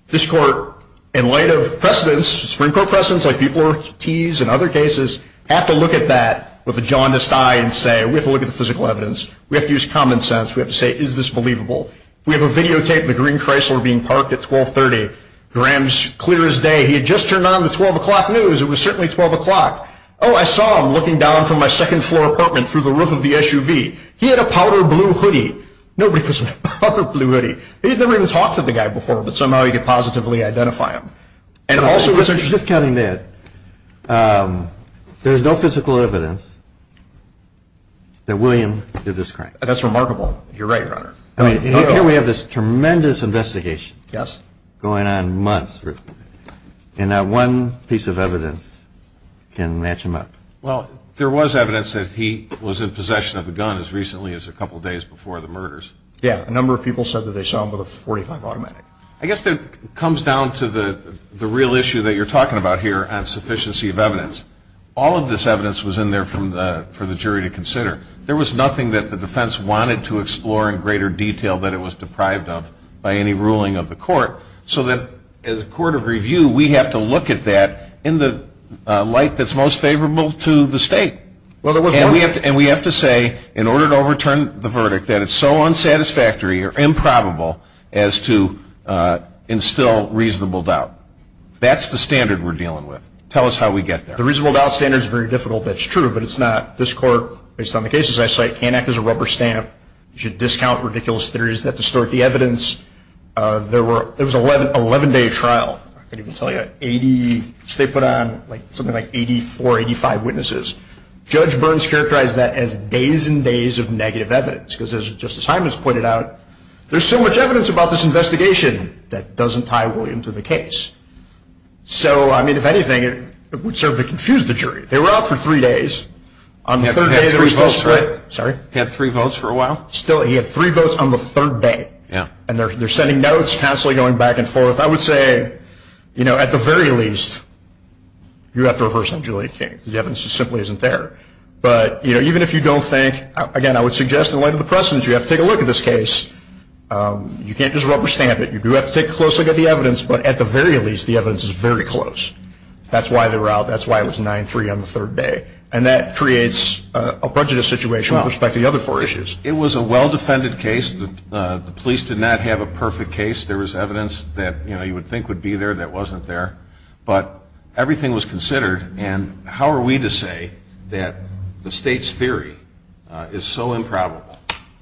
this court, in light of precedents, Supreme Court precedents that people have teased in other cases, have to look at that with a jaundiced eye and say, we have to look at the physical evidence. We have to use common sense. We have to say, is this believable? We have a videotape of the Green Chrysler being parked at 1230. Graham's clear as day. He had just turned on the 12 o'clock news. It was certainly 12 o'clock. Oh, I saw him looking down from my second-floor apartment through the roof of the SUV. He had a powder blue hoodie. Nobody could see the powder blue hoodie. He'd never even talked to the guy before, but somehow he could positively identify him. And also, as you can imagine, there's no physical evidence that William did this crime. That's remarkable. You're right, Your Honor. Here we have this tremendous investigation going on months. And not one piece of evidence can match him up. Well, there was evidence that he was in possession of a gun as recently as a couple days before the murders. Yeah, a number of people said that they saw him with a .45 automatic. I guess it comes down to the real issue that you're talking about here and sufficiency of evidence. All of this evidence was in there for the jury to consider. There was nothing that the defense wanted to explore in greater detail than it was deprived of by any ruling of the court. So that as a court of review, we have to look at that in the light that's most favorable to the state. And we have to say, in order to overturn the verdict, that it's so unsatisfactory or improbable as to instill reasonable doubt. That's the standard we're dealing with. Tell us how we get there. The reasonable doubt standard is very difficult. That's true. But it's not. This court, based on the cases I cite, can't act as a rubber stamp. You should discount ridiculous theories that distort the evidence. There was an 11-day trial. I can't even tell you. They put on something like 84, 85 witnesses. Judge Burns characterized that as days and days of negative evidence because, as Justice Simons pointed out, there's so much evidence about this investigation that doesn't tie well into the case. So, I mean, if anything, it would serve to confuse the jury. They were out for three days. On the third day, there was most of it. Sorry? He had three votes for a while? Still, he had three votes on the third day. Yeah. And they're sending notes constantly going back and forth. I would say, you know, at the very least, you have to reverse a jury case. The evidence just simply isn't there. But, you know, even if you don't think, again, I would suggest in light of the precedents, you have to take a look at this case. You can't just rubber stamp it. You do have to take a close look at the evidence, but at the very least, the evidence is very close. That's why they were out. That's why it was 9-3 on the third day. And that creates a budgeted situation with respect to the other four issues. It was a well-defended case. The police did not have a perfect case. There was evidence that, you know, you would think would be there that wasn't there. But everything was considered, and how are we to say that the state's theory is so improbable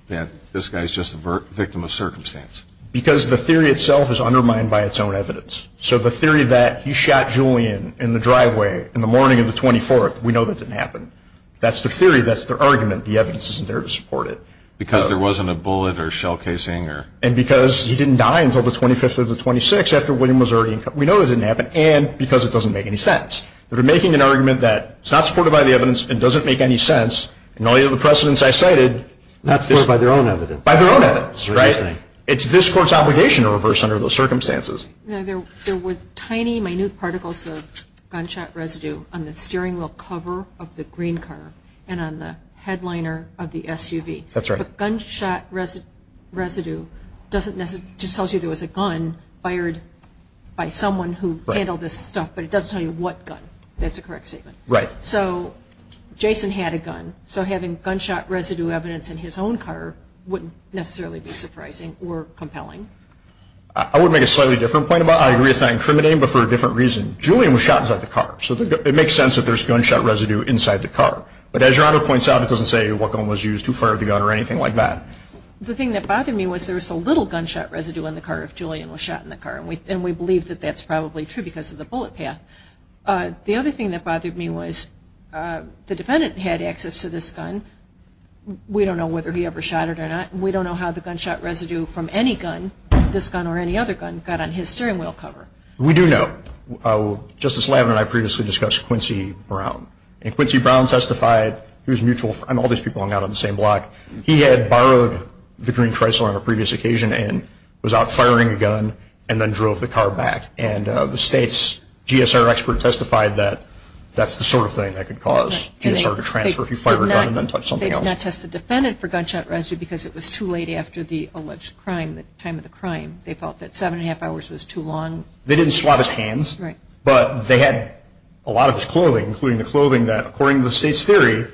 that this guy's just a victim of circumstance? Because the theory itself is undermined by its own evidence. So the theory that he shot Julian in the driveway in the morning of the 24th, we know that didn't happen. That's the theory. That's the argument. The evidence isn't there to support it. Because there wasn't a bullet or shell casing or... And because he didn't die until the 25th or the 26th after William was already... We know that didn't happen. And because it doesn't make any sense. They're making an argument that it's not supported by the evidence, it doesn't make any sense. In light of the precedents I cited... Not filled by their own evidence. By their own evidence, right? It's this court's obligation to reverse under those circumstances. Now, there were tiny minute particles of gunshot residue on the steering wheel cover of the green car and on the headliner of the SUV. That's right. But gunshot residue doesn't necessarily... Just tells you there was a gun fired by someone who handled this stuff. But it doesn't tell you what gun. That's a correct statement. Right. So Jason had a gun. So having gunshot residue evidence in his own car wouldn't necessarily be surprising or compelling. I would make a slightly different point about it. I agree it's not incriminating, but for a different reason. Julian was shot inside the car. So it makes sense that there's gunshot residue inside the car. But as your Honor points out, it doesn't say what gun was used, who fired the gun or anything like that. The thing that bothered me was there was a little gunshot residue on the car if Julian was shot in the car. And we believe that that's probably true because of the bullet path. The other thing that bothered me was the defendant had access to this gun. We don't know whether he ever shot it or not. We don't know how the gunshot residue from any gun, this gun or any other gun, got on his steering wheel cover. We do know. Justice Lavin and I previously discussed Quincy Brown. And Quincy Brown testified. He was a mutual friend. All these people hung out on the same block. He had borrowed the green Chrysler on a previous occasion and was out firing a gun and then drove the car back. And the state's GSR expert testified that that's the sort of thing that could cause GSR to transfer if you fire a gun and then touch something else. And that tested the defendant for gunshot residue because it was too late after the alleged crime, the time of the crime. They felt that seven and a half hours was too long. They didn't swat his hands, but they had a lot of his clothing, including the clothing that, according to the state's theory,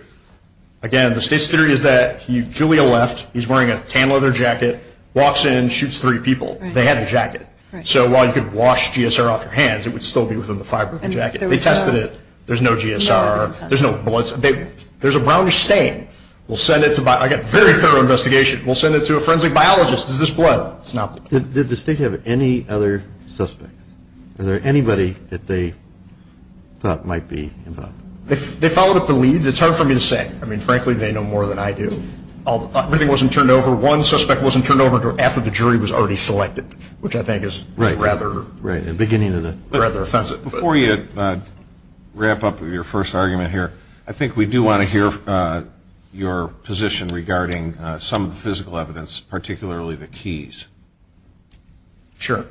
again, the state's theory is that Julian left, he's wearing a tan leather jacket, walks in and shoots three people. They had a jacket. So while you could wash GSR off your hands, it would still be within the fiber of the jacket. They tested it. There's no GSR. There's no bullets. There's a brownish stain. We'll send it to, I got very thorough investigation, we'll send it to a forensic biologist. Is this blood? It's not. Did the state have any other suspects? Was there anybody that they thought might be involved? They followed up the lead. It's hard for me to say. I mean, frankly, they know more than I do. Everything wasn't turned over. One suspect wasn't turned over after the jury was already selected, which I think is rather offensive. Before you wrap up your first argument here, I think we do want to hear your position regarding some of the physical evidence, particularly the keys. Sure.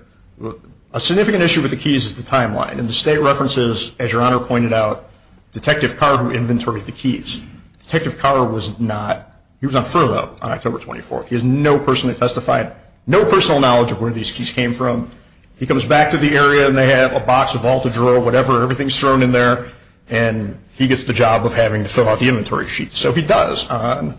A significant issue with the keys is the timeline. And the state references, as Your Honor pointed out, Detective Carr, who inventoried the keys. Detective Carr was not, he was on furlough on October 24th. He has no personal testifying, no personal knowledge of where these keys came from. He comes back to the area, and they have a box, a vault, a drawer, whatever, everything's thrown in there, and he gets the job of having to fill out the inventory sheet. So he does. On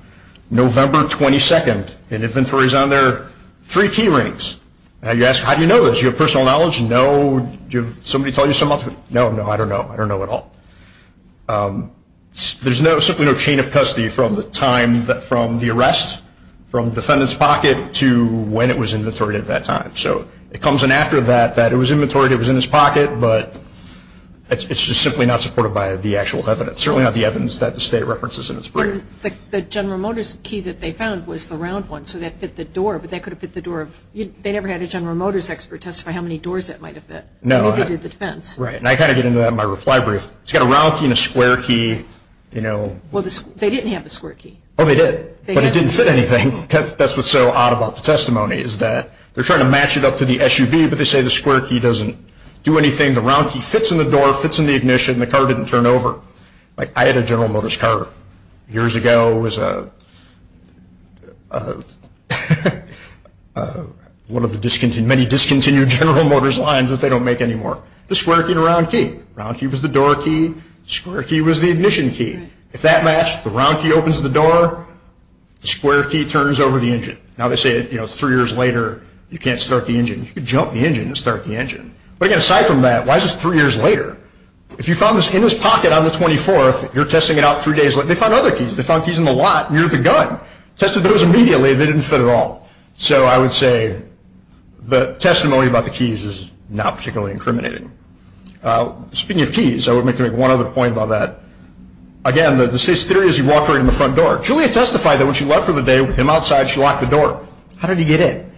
November 22nd, an inventory is on there, three key rings. Now you ask, how do you know this? Do you have personal knowledge? No. Did somebody tell you something else? No, no, I don't know. I don't know at all. There's simply no chain of custody from the time, from the arrest, from defendant's pocket, to when it was inventoried at that time. So it comes in after that, that it was inventoried, it was in his pocket, but it's just simply not supported by the actual evidence, certainly not the evidence that the state references in its brief. The General Motors key that they found was the round one, so that fit the door, but that could have fit the door of, they never had a General Motors expert testify how many doors that might have fit. No. They did the defense. Right. And I kind of get into that in my reply brief. It's got a round key and a square key, you know. Well, they didn't have the square key. Oh, they did. But it didn't fit anything. That's what's so odd about the testimony is that they're trying to match it up to the SUV, but they say the square key doesn't do anything. The round key fits in the door, fits in the ignition, and the car didn't turn over. Like, I had a General Motors car years ago. It was one of the many discontinued General Motors lines that they don't make anymore. The square key and the round key. Round key was the door key. Square key was the ignition key. If that matched, the round key opens the door, the square key turns over the engine. Now, they say, you know, three years later, you can't start the engine. You could jump the engine and start the engine. But again, aside from that, why is this three years later? If you found this in his pocket on the 24th, you're testing it out three days later. They found other keys. They found keys in the lot near the gun. Tested those immediately. They didn't fit at all. So, I would say the testimony about the keys is not particularly incriminating. Speaking of keys, I would make one other point about that. Again, the theory is you walk right in the front door. Julia testified that when she left for the day with him outside, she locked the door. How did he get in?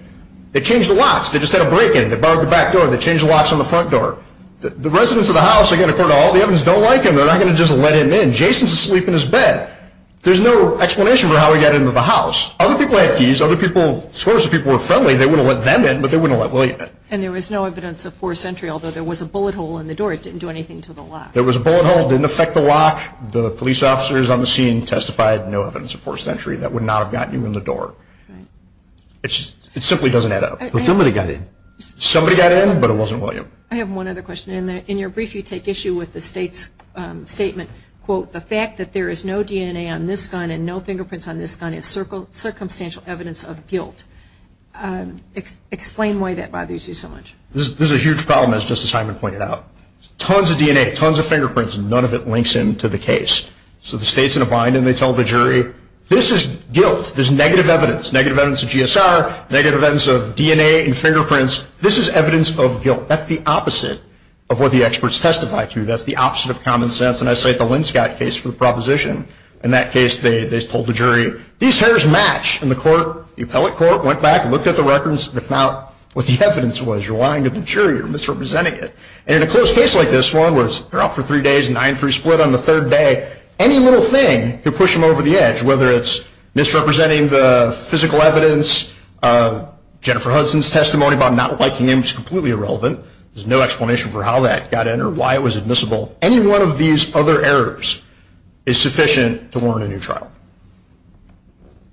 They changed the locks. They just had a break in. They barred the back door. They changed the locks on the front door. The residents of the house, again, according to all the evidence, don't like him. They're not going to just let him in. Jason's asleep in his bed. There's no explanation for how he got into the house. Other people have keys. Other people, as far as the people were friendly, they wouldn't let them in, but they wouldn't let William in. And there was no evidence of forced entry, although there was a bullet hole in the door. It didn't do anything to the lock. There was a bullet hole. It didn't affect the lock. The police officers on the scene testified no evidence of forced entry. That would not have gotten him in the door. It simply doesn't add up. But somebody got in. Somebody got in, but it wasn't William. I have one other question. In your brief, you take issue with the state's statement, quote, the fact that there is no DNA on this gun and no fingerprints on this gun is circumstantial evidence of guilt. Explain why that bothers you so much. This is a huge problem, as Justice Hager pointed out. Tons of DNA, tons of fingerprints, and none of it links into the case. So the state's in a bind, and they tell the jury, this is guilt. This is negative evidence, negative evidence of GSR, negative evidence of DNA and fingerprints. This is evidence of guilt. That's the opposite of what the experts testify to. That's the opposite of common sense. And I cite the Linscott case for the proposition. In that case, they told the jury, these hairs match. And the court, the appellate court, went back and looked at the records, and found what the evidence was. You're lying to the jury. You're misrepresenting it. And in a close case like this one where they're out for three days, a 9-3 split on the third day, any little thing could push them over the edge, whether it's misrepresenting the physical evidence, Jennifer Hudson's testimony about not liking him is completely irrelevant. There's no explanation for how that got in or why it was admissible. Any one of these other errors is sufficient to learn in your trial.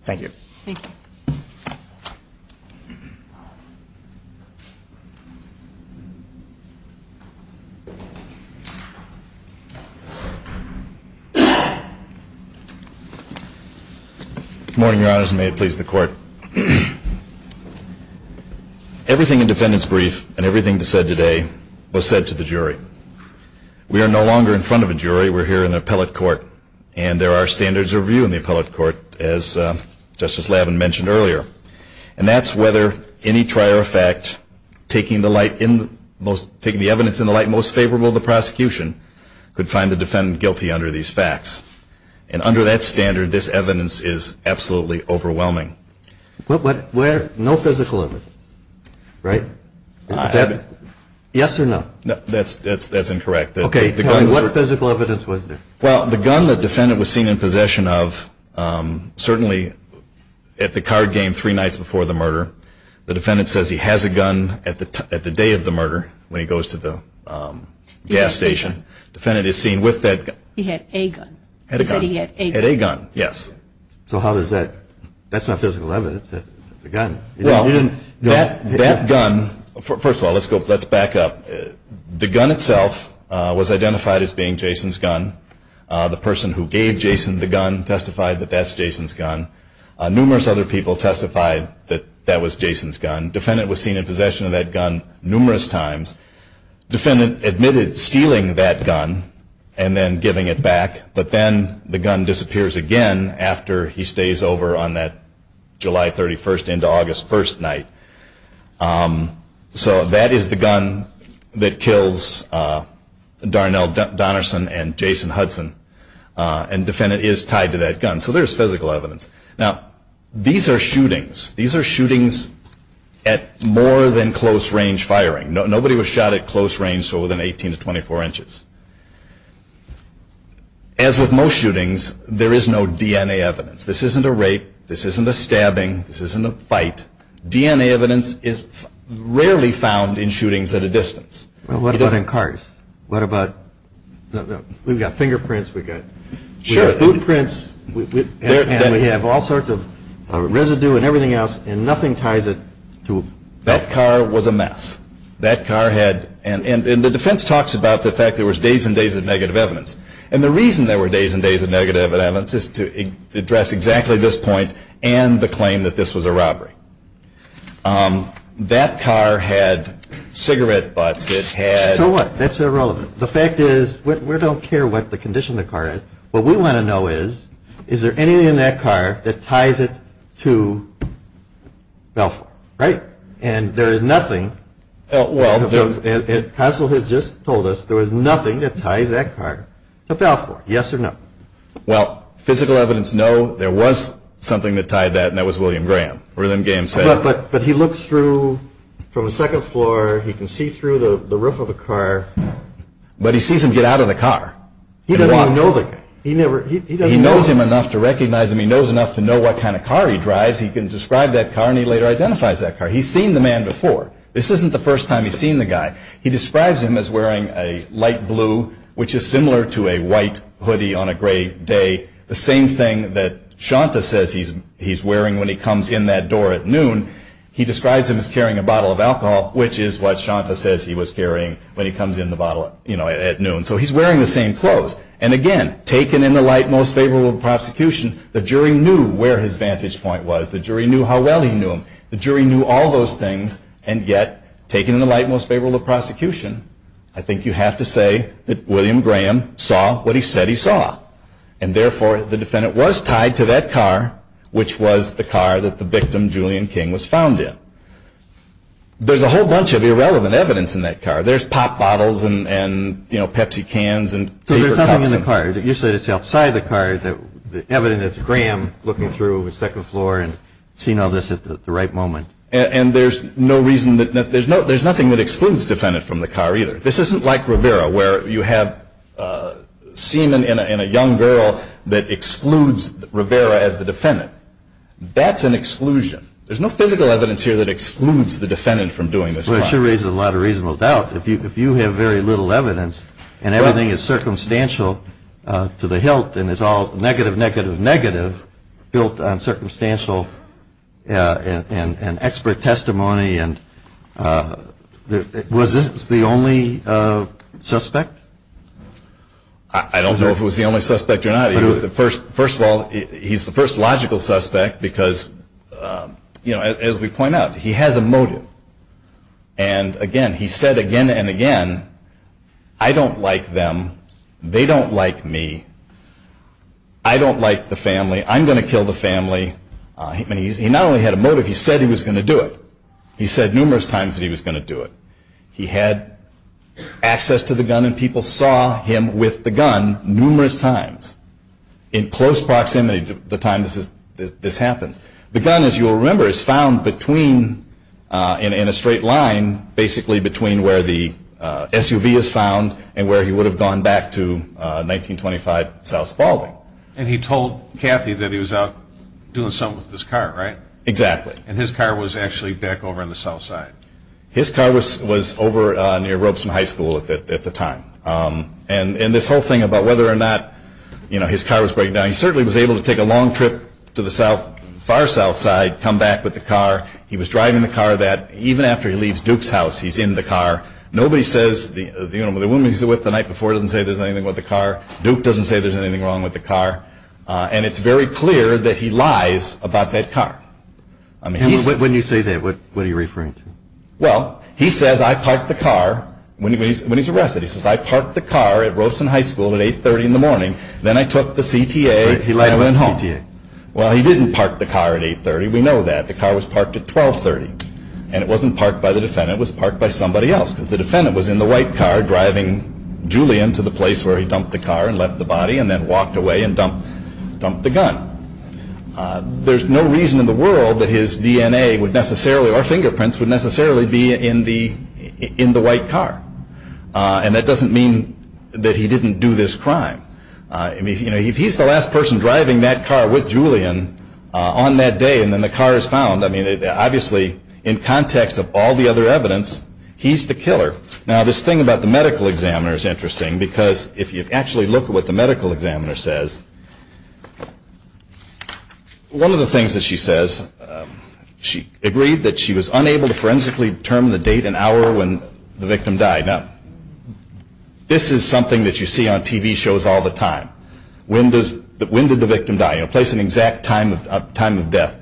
Thank you. Thank you. Good morning, Your Honors, and may it please the Court. Everything in defendant's brief and everything said today was said to the jury. We are no longer in front of a jury. We're here in the appellate court. And there are standards of view in the appellate court, as Justice Lavin mentioned earlier. And that's whether any trial or fact taking the evidence in the light most favorable to the prosecution could find the defendant guilty under these facts. And under that standard, this evidence is absolutely overwhelming. No physical evidence, right? Yes or no? That's incorrect. Okay. What physical evidence was there? Well, the gun the defendant was seen in possession of, certainly at the card game three nights before the murder, the defendant says he has a gun at the day of the murder when he goes to the gas station. The defendant is seen with that gun. He had a gun. Had a gun. He said he had a gun. Had a gun, yes. So how does that – that's not physical evidence. It's a gun. Well, that gun – first of all, let's back up. The gun itself was identified as being Jason's gun. The person who gave Jason the gun testified that that's Jason's gun. Numerous other people testified that that was Jason's gun. Defendant was seen in possession of that gun numerous times. Defendant admitted stealing that gun and then giving it back, but then the gun disappears again after he stays over on that July 31st into August 1st night. So that is the gun that kills Darnell Donerson and Jason Hudson, and defendant is tied to that gun. So there's physical evidence. Now, these are shootings. These are shootings at more than close-range firing. Nobody was shot at close range, so within 18 to 24 inches. As with most shootings, there is no DNA evidence. This isn't a rape. This isn't a stabbing. This isn't a fight. DNA evidence is rarely found in shootings at a distance. What about in cars? What about – we've got fingerprints. We've got fingerprints. We have all sorts of residue and everything else, and nothing ties it to – That car was a mess. That car had – and the defense talks about the fact there was days and days of negative evidence, and the reason there were days and days of negative evidence is to address exactly this point and the claim that this was a robbery. That car had cigarette butts. It had – So what? That's irrelevant. The fact is we don't care what the condition of the car is. What we want to know is, is there anything in that car that ties it to FALFOR, right? And there is nothing – Well – Counsel has just told us there was nothing that ties that car to FALFOR, yes or no. Well, physical evidence, no. There was something that tied that, and that was William Graham. But he looks through from the second floor. He can see through the roof of the car. But he sees him get out of the car. He doesn't even know the guy. He knows him enough to recognize him. He knows enough to know what kind of car he drives. He can describe that car, and he later identifies that car. He's seen the man before. This isn't the first time he's seen the guy. He describes him as wearing a light blue, which is similar to a white hoodie on a gray day, the same thing that Shanta says he's wearing when he comes in that door at noon. He describes him as carrying a bottle of alcohol, which is what Shanta says he was carrying when he comes in the bottle at noon. So he's wearing the same clothes. And, again, taken in the light most favorable of prosecution, the jury knew where his vantage point was. The jury knew how well he knew him. The jury knew all those things, and yet, taken in the light most favorable of prosecution, I think you have to say that William Graham saw what he said he saw. And, therefore, the defendant was tied to that car, which was the car that the victim, Julian King, was found in. There's a whole bunch of irrelevant evidence in that car. There's pop bottles and, you know, Pepsi cans and paper cups. So there's something in the car. Usually it's outside the car, the evidence that's Graham looking through the second floor and seeing all this at the right moment. And there's no reason that there's nothing that excludes the defendant from the car either. This isn't like Rivera, where you have seen in a young girl that excludes Rivera as the defendant. That's an exclusion. There's no physical evidence here that excludes the defendant from doing this crime. Well, it sure raises a lot of reasonable doubt. If you have very little evidence and everything is circumstantial to the hilt and it's all negative, negative, negative built on circumstantial and expert testimony and was this the only suspect? I don't know if it was the only suspect or not. First of all, he's the first logical suspect because, you know, as we point out, he has a motive. And, again, he said again and again, I don't like them. They don't like me. I don't like the family. I'm going to kill the family. He not only had a motive, he said he was going to do it. He said numerous times that he was going to do it. He had access to the gun and people saw him with the gun numerous times in close proximity to the time this happened. The gun, as you will remember, is found in a straight line basically between where the SUV is found and where he would have gone back to 1925 South Baldwin. And he told Kathy that he was out doing something with his car, right? Exactly. And his car was actually back over on the south side. His car was over near Robeson High School at the time. And this whole thing about whether or not, you know, his car was broken down, he certainly was able to take a long trip to the far south side, come back with the car. He was driving the car that even after he leaves Duke's house, he's in the car. Nobody says, you know, the woman he was with the night before doesn't say there's anything wrong with the car. Duke doesn't say there's anything wrong with the car. And it's very clear that he lies about that car. When you say that, what are you referring to? Well, he says, I parked the car when he's arrested. He says, I parked the car at Robeson High School at 830 in the morning. Then I took the CTA and went home. Well, he didn't park the car at 830. We know that. The car was parked at 1230. And it wasn't parked by the defendant. It was parked by somebody else. The defendant was in the white car driving Julian to the place where he dumped the car and left the body and then walked away and dumped the gun. There's no reason in the world that his DNA would necessarily, or fingerprints would necessarily be in the white car. And that doesn't mean that he didn't do this crime. I mean, you know, he's the last person driving that car with Julian on that day. And then the car is found. I mean, obviously, in context of all the other evidence, he's the killer. Now, this thing about the medical examiner is interesting, because if you actually look at what the medical examiner says, one of the things that she says, she agreed that she was unable to forensically determine the date and hour when the victim died. Now, this is something that you see on TV shows all the time. When did the victim die? You know, place an exact time of death.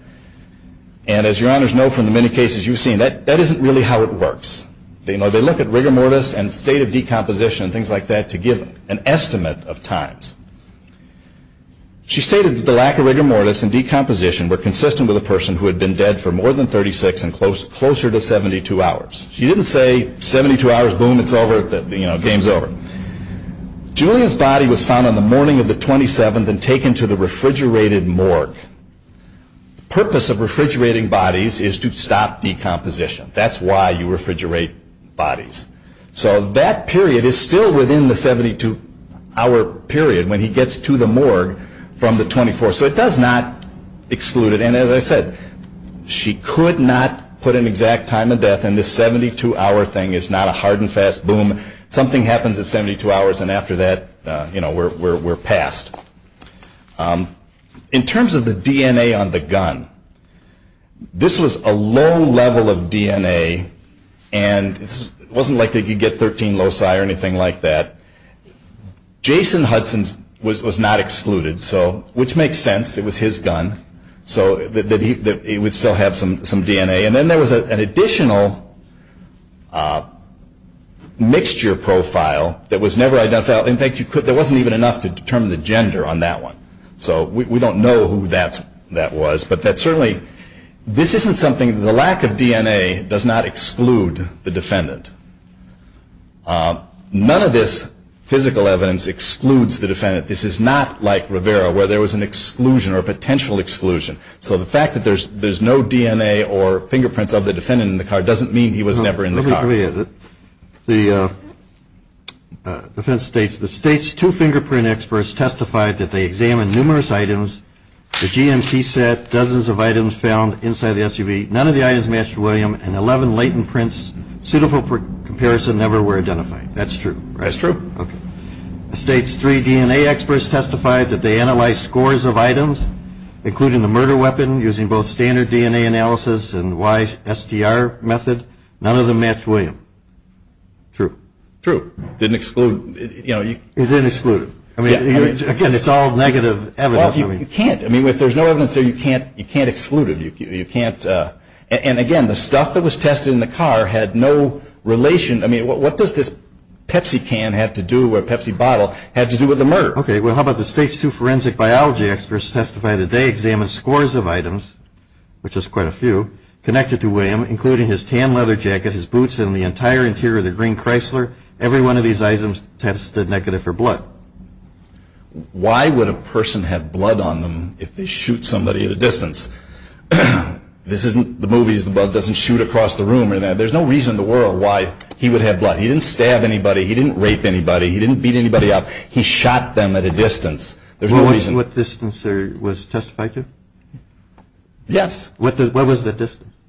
And as your honors know from the many cases you've seen, that isn't really how it works. You know, they look at rigor mortis and state of decomposition and things like that to give an estimate of times. She stated that the lack of rigor mortis and decomposition were consistent with a person who had been dead for more than 36 and closer to 72 hours. She didn't say 72 hours, boom, it's over, you know, game's over. Julia's body was found on the morning of the 27th and taken to the refrigerated morgue. The purpose of refrigerating bodies is to stop decomposition. That's why you refrigerate bodies. So that period is still within the 72-hour period when he gets to the morgue from the 24th. So it does not exclude it. And as I said, she could not put an exact time of death, and this 72-hour thing is not a hard and fast boom. Something happens at 72 hours, and after that, you know, we're passed. In terms of the DNA on the gun, this was a low level of DNA, and it wasn't likely you'd get 13 loci or anything like that. Jason Hudson's was not excluded, which makes sense. It was his gun. So it would still have some DNA. And then there was an additional mixture profile that was never identified. In fact, there wasn't even enough to determine the gender on that one. So we don't know who that was. But that certainly, this isn't something, the lack of DNA does not exclude the defendant. None of this physical evidence excludes the defendant. This is not like Rivera where there was an exclusion or a potential exclusion. So the fact that there's no DNA or fingerprints of the defendant in the car doesn't mean he was never in the car. I would agree with it. The defense states, the state's two fingerprint experts testified that they examined numerous items, the GMC set, dozens of items found inside the SUV. None of the items matched William, and 11 latent prints suitable for comparison never were identified. That's true. That's true. Okay. The state's three DNA experts testified that they analyzed scores of items, including the murder weapon, using both standard DNA analysis and YSDR method. None of them matched William. True. True. Didn't exclude. It didn't exclude him. Again, it's all negative evidence. Well, you can't. I mean, if there's no evidence there, you can't exclude it. You can't. And again, the stuff that was tested in the car had no relation. I mean, what does this Pepsi can have to do or Pepsi bottle have to do with the murder? Okay. Well, how about the state's two forensic biology experts testified that they examined scores of items, which is quite a few, connected to William, including his tan leather jacket, his boots, and the entire interior of the green Chrysler. Every one of these items tested negative for blood. Why would a person have blood on them if they shoot somebody at a distance? This isn't the movies. The blood doesn't shoot across the room. There's no reason in the world why he would have blood. He didn't stab anybody. He didn't rape anybody. He didn't beat anybody up. He shot them at a distance. There's no reason. What distance was testified to? Yes. What was the distance?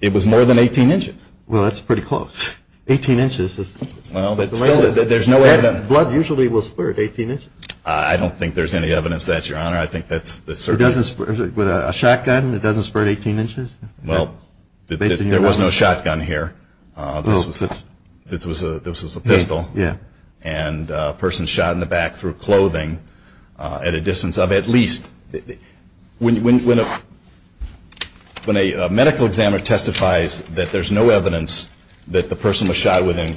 It was more than 18 inches. Well, that's pretty close. 18 inches. Well, there's no evidence. Blood usually will spread 18 inches. I don't think there's any evidence to that, Your Honor. I think that's certain. With a shotgun, it doesn't spread 18 inches? Well, there was no shotgun here. This was a pistol. And a person shot in the back through clothing at a distance of at least. When a medical examiner testifies that there's no evidence that the person was shot within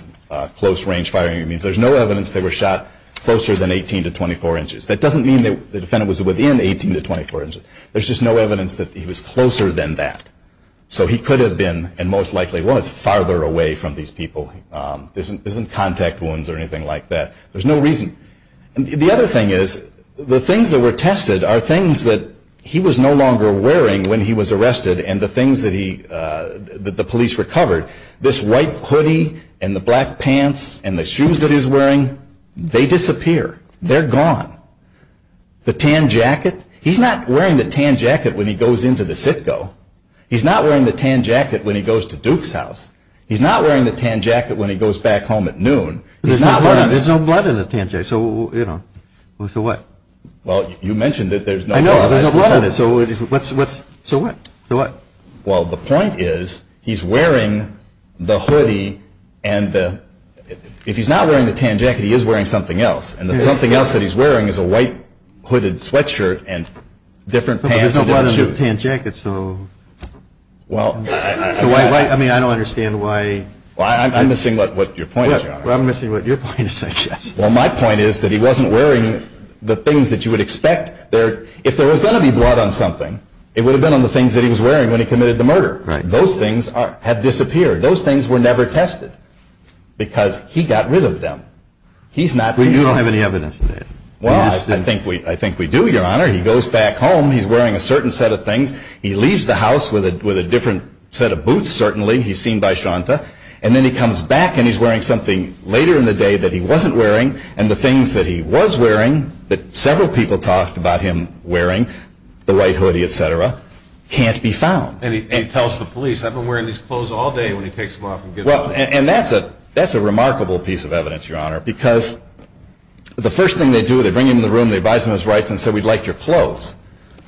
close range firing range, there's no evidence they were shot closer than 18 to 24 inches. That doesn't mean the defendant was within 18 to 24 inches. There's just no evidence that he was closer than that. So he could have been, and most likely was, farther away from these people. There's no contact wounds or anything like that. There's no reason. The other thing is the things that were tested are things that he was no longer wearing when he was arrested and the things that the police recovered. This white hoodie and the black pants and the shoes that he was wearing, they disappear. They're gone. The tan jacket? He's not wearing the tan jacket when he goes into the CITCO. He's not wearing the tan jacket when he goes to Duke's house. He's not wearing the tan jacket when he goes back home at noon. There's no blood on the tan jacket. So what? Well, you mentioned that there's no blood on it. So what? Well, the point is he's wearing the hoodie, and if he's not wearing the tan jacket, he is wearing something else. And the one thing else that he's wearing is a white hooded sweatshirt and different pants and different shoes. There's no blood on the tan jacket. I mean, I don't understand why. I'm missing what your point is, John. I'm missing what your point is, actually. Well, my point is that he wasn't wearing the things that you would expect. If there was going to be blood on something, it would have been on the things that he was wearing when he committed the murder. Those things have disappeared. Those things were never tested because he got rid of them. You don't have any evidence to say that. Well, I think we do, Your Honor. He goes back home. He's wearing a certain set of things. He leaves the house with a different set of boots, certainly. He's seen by Shonta. And then he comes back, and he's wearing something later in the day that he wasn't wearing. And the things that he was wearing, that several people talked about him wearing, the white hoodie, et cetera, can't be found. And he tells the police, I've been wearing these clothes all day. When he takes them off and gives them to me. And that's a remarkable piece of evidence, Your Honor. Because the first thing they do, they bring him to the room, they advise him of his rights, and say, we'd like your clothes.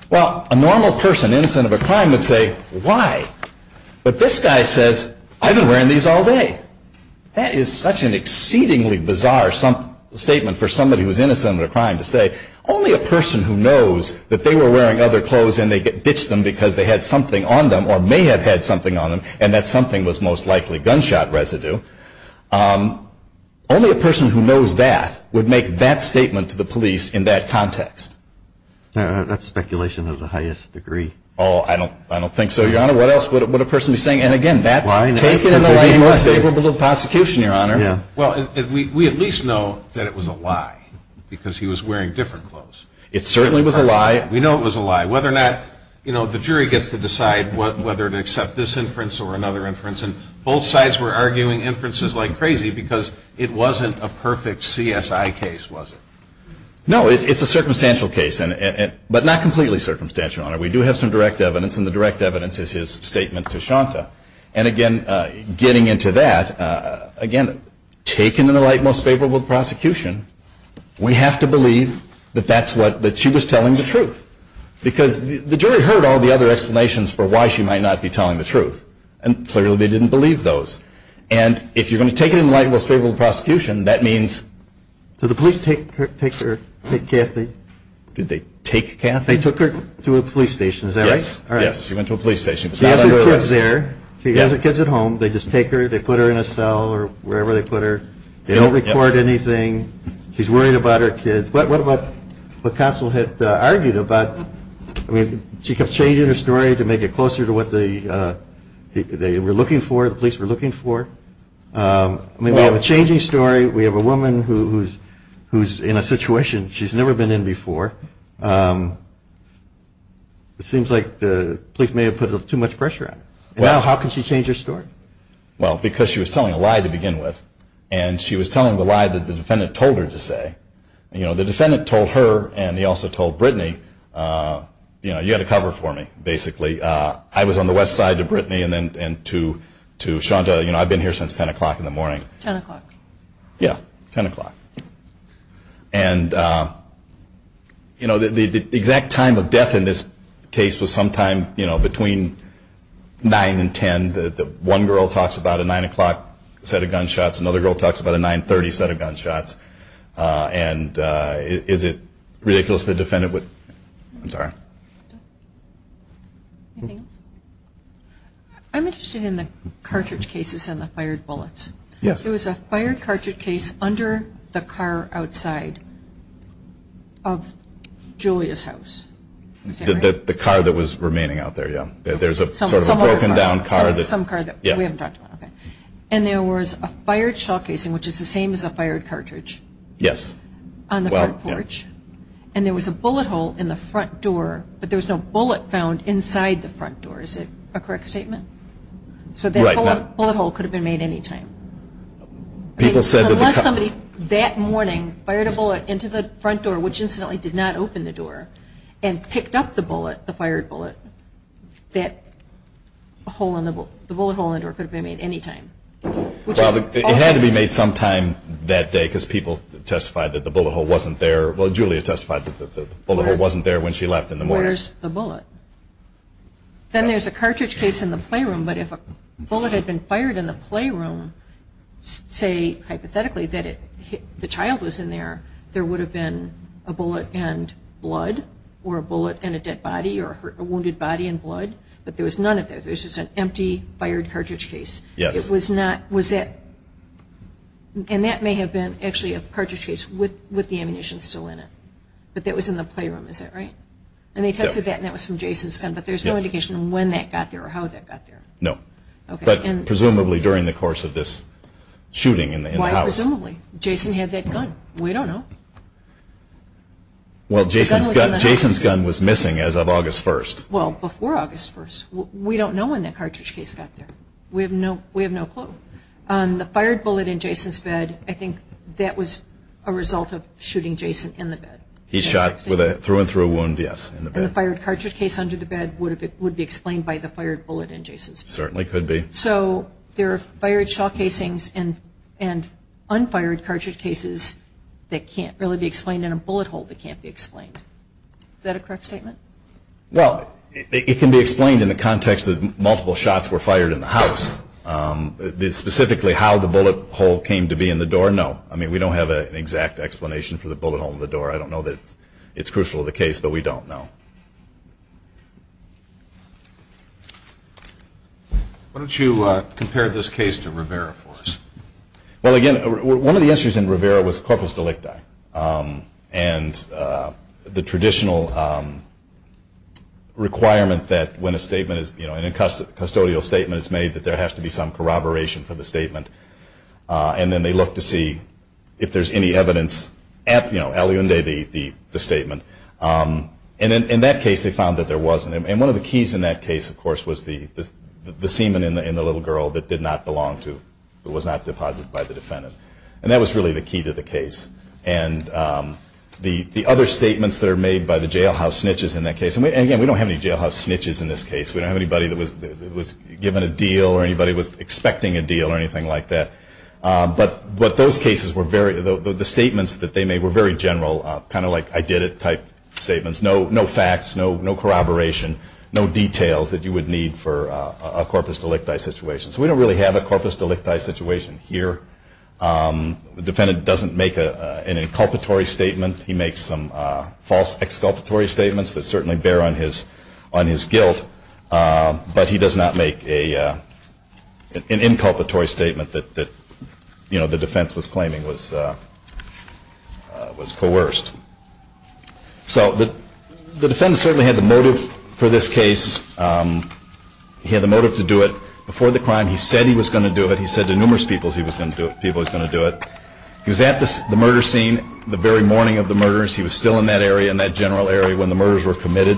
Well, a normal person, innocent of a crime, would say, why? But this guy says, I've been wearing these all day. That is such an exceedingly bizarre statement for somebody who's innocent of a crime to say. Only a person who knows that they were wearing other clothes, and they ditched them because they had something on them, or may have had something on them, and that something was most likely gunshot residue. Only a person who knows that would make that statement to the police in that context. That's speculation to the highest degree. Oh, I don't think so, Your Honor. What else would a person be saying? Well, we at least know that it was a lie, because he was wearing different clothes. It certainly was a lie. We know it was a lie. Whether or not, you know, the jury gets to decide whether to accept this inference or another inference. And both sides were arguing inferences like crazy, because it wasn't a perfect CSI case, was it? No, it's a circumstantial case, but not completely circumstantial, Your Honor. We do have some direct evidence, and the direct evidence is his statement to Shanta. And, again, getting into that, again, taken in the light and most favorable of prosecution, we have to believe that that's what she was telling the truth. Because the jury heard all the other explanations for why she might not be telling the truth, and clearly they didn't believe those. And if you're going to take it in the light and most favorable of prosecution, that means... Did the police take Kathy to a police station? Yes, she went to a police station. She has her kids there. She has her kids at home. They just take her. They put her in a cell or wherever they put her. They don't record anything. She's worried about her kids. But what counsel had argued about, I mean, she kept changing the story to make it closer to what they were looking for, the police were looking for. I mean, we have a changing story. We have a woman who's in a situation she's never been in before. It seems like the police may have put too much pressure on her. Well, how could she change her story? Well, because she was telling a lie to begin with, and she was telling the lie that the defendant told her to say. You know, the defendant told her, and he also told Brittany, you know, you had to cover for me, basically. I was on the west side to Brittany and then to Shonda. You know, I've been here since 10 o'clock in the morning. 10 o'clock. Yeah, 10 o'clock. And, you know, the exact time of death in this case was sometime, you know, between 9 and 10. One girl talks about a 9 o'clock set of gunshots. Another girl talks about a 9.30 set of gunshots. And is it ridiculous the defendant would – I'm sorry. I'm interested in the cartridge cases and the fired bullets. Yes. There was a fired cartridge case under the car outside of Julia's house. The car that was remaining out there, yeah. There's a sort of a broken down car. Some car. Yeah. And there was a fired shell case, which is the same as a fired cartridge. Yes. On the front porch. And there was a bullet hole in the front door, but there was no bullet found inside the front door. Is it a correct statement? Right. The bullet hole could have been made any time. Unless somebody that morning fired a bullet into the front door, which incidentally did not open the door, and picked up the bullet, the fired bullet, the bullet hole in the door could have been made any time. It had to be made sometime that day because people testified that the bullet hole wasn't there. Well, Julia testified that the bullet hole wasn't there when she left in the morning. Where's the bullet? Then there's a cartridge case in the playroom. But if a bullet had been fired in the playroom, say, hypothetically, that the child was in there, there would have been a bullet and blood, or a bullet and a dead body, or a wounded body and blood. But there was none of that. There's just an empty fired cartridge case. Yes. It was not, was that, and that may have been actually a cartridge case with the ammunition still in it. But that was in the playroom, is that right? And they tested that and that was from Jason's gun, but there's no indication when that got there or how that got there. No. But presumably during the course of this shooting in the house. Why presumably? Jason had that gun. We don't know. Well, Jason's gun was missing as of August 1st. Well, before August 1st. We don't know when that cartridge case got there. We have no clue. The fired bullet in Jason's bed, I think that was a result of shooting Jason in the bed. He shot through and through a wound, yes, in the bed. And the fired cartridge case under the bed would be explained by the fired bullet in Jason's bed. Certainly could be. So there are fired shot casings and unfired cartridge cases that can't really be explained in a bullet hole that can't be explained. Is that a correct statement? Well, it can be explained in the context that multiple shots were fired in the house. Specifically how the bullet hole came to be in the door, no. I mean, we don't have an exact explanation for the bullet hole in the door. I don't know that it's crucial to the case, but we don't know. Why don't you compare this case to Rivera for us? Well, again, one of the issues in Rivera was corpus delicti. And the traditional requirement that when a statement is, you know, a custodial statement is made that there has to be some corroboration for the statement. And then they look to see if there's any evidence at, you know, El Unde, the statement. And in that case, they found that there wasn't. And one of the keys in that case, of course, was the semen in the little girl that did not belong to, that was not deposited by the defendant. And that was really the key to the case. And the other statements that are made by the jailhouse snitches in that case, and again, we don't have any jailhouse snitches in this case. We don't have anybody that was given a deal or anybody was expecting a deal or anything like that. But those cases were very, the statements that they made were very general, kind of like I did it type statements. No facts, no corroboration, no details that you would need for a corpus delicti situation. So we don't really have a corpus delicti situation here. The defendant doesn't make any inculpatory statements. He makes some false exculpatory statements that certainly bear on his guilt. But he does not make an inculpatory statement that, you know, the defense was claiming was coerced. So the defendant certainly had the motive for this case. He had the motive to do it. Before the crime, he said he was going to do it. He said to numerous people he was going to do it. He was at the murder scene the very morning of the murders. He was still in that area, in that general area, when the murders were committed.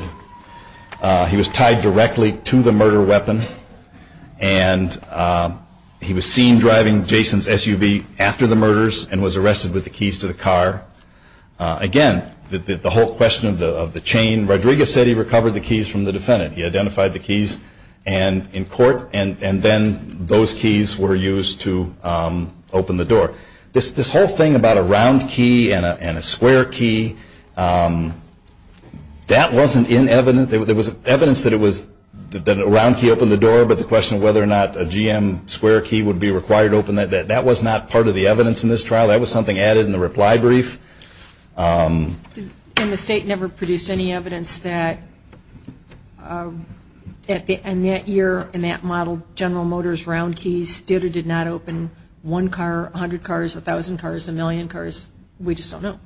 He was tied directly to the murder weapon, and he was seen driving Jason's SUV after the murders and was arrested with the keys to the car. Again, the whole question of the chain, Rodriguez said he recovered the keys from the defendant. He identified the keys in court, and then those keys were used to open the door. This whole thing about a round key and a square key, that wasn't inevitable. There was evidence that a round key opened the door, but the question of whether or not a GM square key would be required to open that, that was not part of the evidence in this trial. That was something added in the reply brief. And the state never produced any evidence that in that year, in that model, GM round keys did or did not open one car, 100 cars, 1,000 cars, a million cars? We just don't know.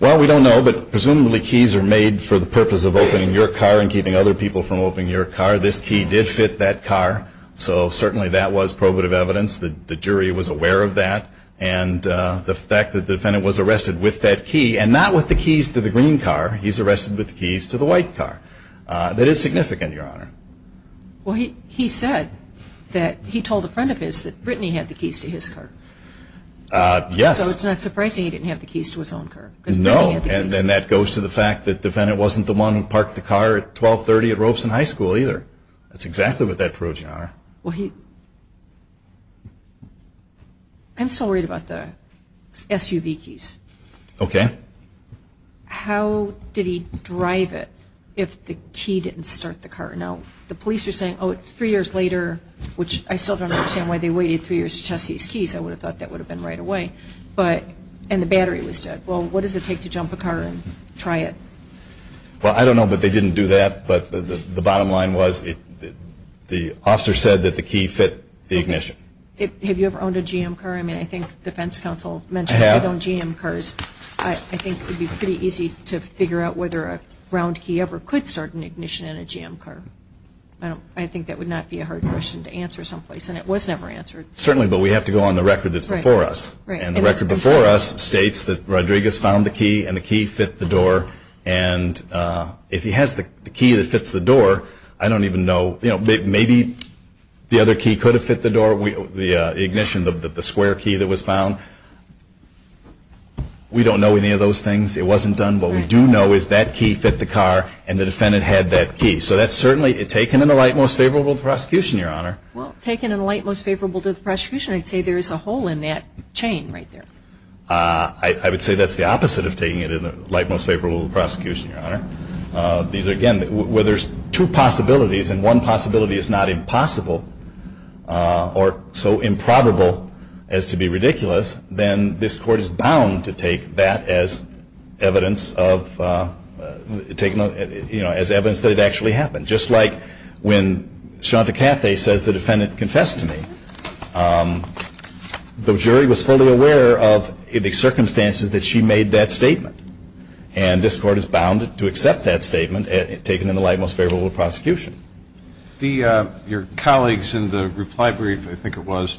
Well, we don't know, but presumably keys are made for the purpose of opening your car and keeping other people from opening your car. This key did fit that car, so certainly that was probative evidence. The jury was aware of that, and the fact that the defendant was arrested with that key, and not with the keys to the green car. He's arrested with the keys to the white car. That is significant, Your Honor. Well, he said that he told a friend of his that Brittany had the keys to his car. Yes. So it's not surprising he didn't have the keys to his own car. No, and that goes to the fact that the defendant wasn't the one who parked the car at 1230 at Robeson High School either. That's exactly what that proves, Your Honor. I'm still worried about the SUV keys. Okay. How did he drive it if the key didn't start the car? Now, the police are saying, oh, it's three years later, which I still don't understand why they waited three years to test these keys. I would have thought that would have been right away, and the battery was dead. Well, what does it take to jump a car and try it? Well, I don't know that they didn't do that, but the bottom line was the officer said that the key fit the ignition. Have you ever owned a GM car? I mean, I think the defense counsel mentioned that you've owned GM cars. I think it would be pretty easy to figure out whether a round key ever could start an ignition in a GM car. I think that would not be a hard question to answer someplace, and it was never answered. Certainly, but we have to go on the record that's before us, and the record before us states that Rodriguez found the key and the key fit the door, and if he has the key that fits the door, I don't even know. Maybe the other key could have fit the door, the ignition, the square key that was found. We don't know any of those things. It wasn't done. What we do know is that key fit the car, and the defendant had that key. So that's certainly taken in the light most favorable to the prosecution, Your Honor. Well, taken in the light most favorable to the prosecution, I'd say there's a hole in that chain right there. I would say that's the opposite of taking it in the light most favorable to the prosecution, Your Honor. Again, where there's two possibilities and one possibility is not impossible or so improbable as to be ridiculous, then this court is bound to take that as evidence that it actually happened. Just like when Shanta Cathey says the defendant confessed to me, the jury was fully aware of the circumstances that she made that statement, and this court is bound to accept that statement taken in the light most favorable to the prosecution. Your colleagues in the reply brief, I think it was,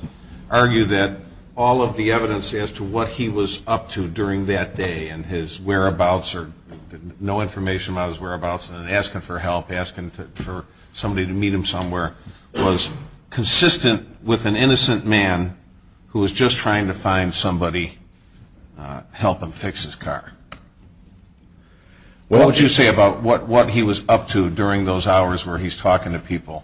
argue that all of the evidence as to what he was up to during that day and his whereabouts or no information about his whereabouts and asking for help, asking for somebody to meet him somewhere was consistent with an innocent man who was just trying to find somebody to help him fix his car. What would you say about what he was up to during those hours where he's talking to people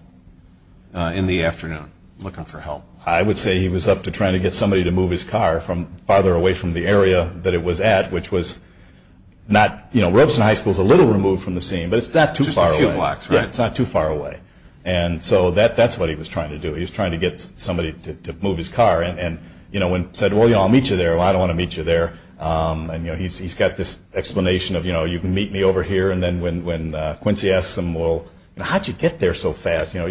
in the afternoon looking for help? I would say he was up to trying to get somebody to move his car from farther away from the area that it was at, which was not, you know, Rebson High School is a little removed from the scene, but it's not too far away. It's not too far away. And so that's what he was trying to do. He was trying to get somebody to move his car and, you know, said, well, I'll meet you there. Well, I don't want to meet you there. And, you know, he's got this explanation of, you know, you can meet me over here. And then when Quincy asks him, well, how'd you get there so fast? You know,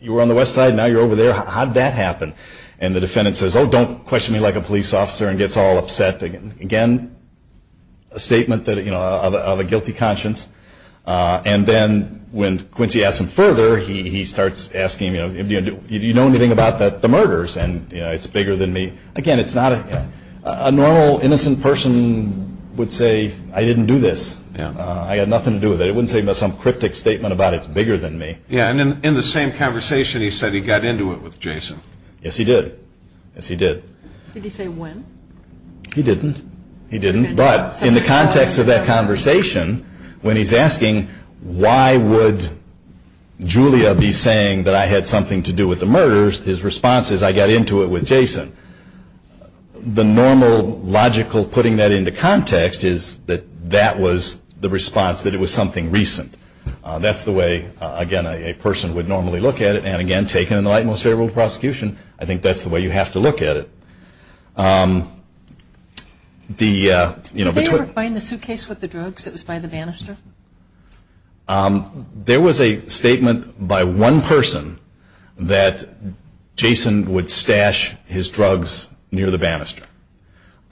you were on the west side. Now you're over there. How'd that happen? And the defendant says, oh, don't question me like a police officer and gets all upset. Again, a statement that, you know, of a guilty conscience. And then when Quincy asks him further, he starts asking, you know, do you know anything about the murders? And, you know, it's bigger than me. Again, it's not a normal innocent person would say I didn't do this. I had nothing to do with it. I wouldn't say some cryptic statement about it's bigger than me. Yeah. And in the same conversation, he said he got into it with Jason. Yes, he did. Yes, he did. Did he say when? He didn't. He didn't. But in the context of that conversation, when he's asking why would Julia be saying that I had something to do with the murders, his response is I got into it with Jason. The normal logical putting that into context is that that was the response, that it was something recent. That's the way, again, a person would normally look at it. And, again, taken in the light most fair rule of prosecution, I think that's the way you have to look at it. Did they refine the suitcase with the drugs that was by the banister? There was a statement by one person that Jason would stash his drugs near the banister,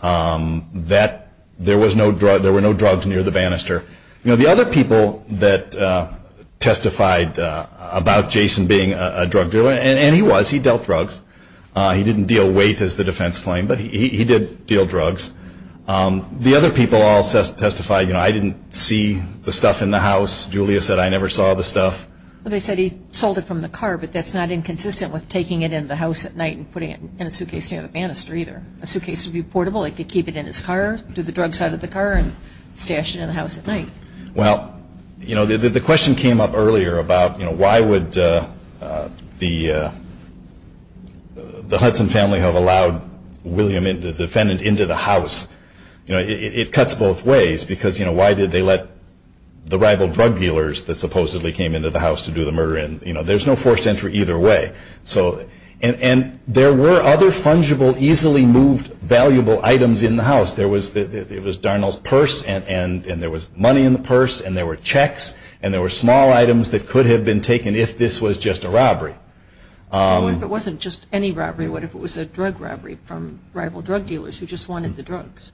that there were no drugs near the banister. You know, the other people that testified about Jason being a drug dealer, and he was, he dealt drugs. He didn't deal weight as the defense claimed, but he did deal drugs. The other people all testified, you know, I didn't see the stuff in the house. Julia said I never saw the stuff. Well, they said he sold it from the car, but that's not inconsistent with taking it in the house at night and putting it in a suitcase near the banister either. A suitcase would be portable. He could keep it in his car, do the drugs out of the car, and stash it in the house at night. Well, you know, the question came up earlier about, you know, why would the Hudson family have allowed William, the defendant, into the house? You know, it cuts both ways because, you know, why did they let the rival drug dealers that supposedly came into the house to do the murder in? You know, there's no forced entry either way. And there were other fungible, easily moved, valuable items in the house. It was Darnall's purse, and there was money in the purse, and there were checks, and there were small items that could have been taken if this was just a robbery. What if it wasn't just any robbery? What if it was a drug robbery from rival drug dealers who just wanted the drugs?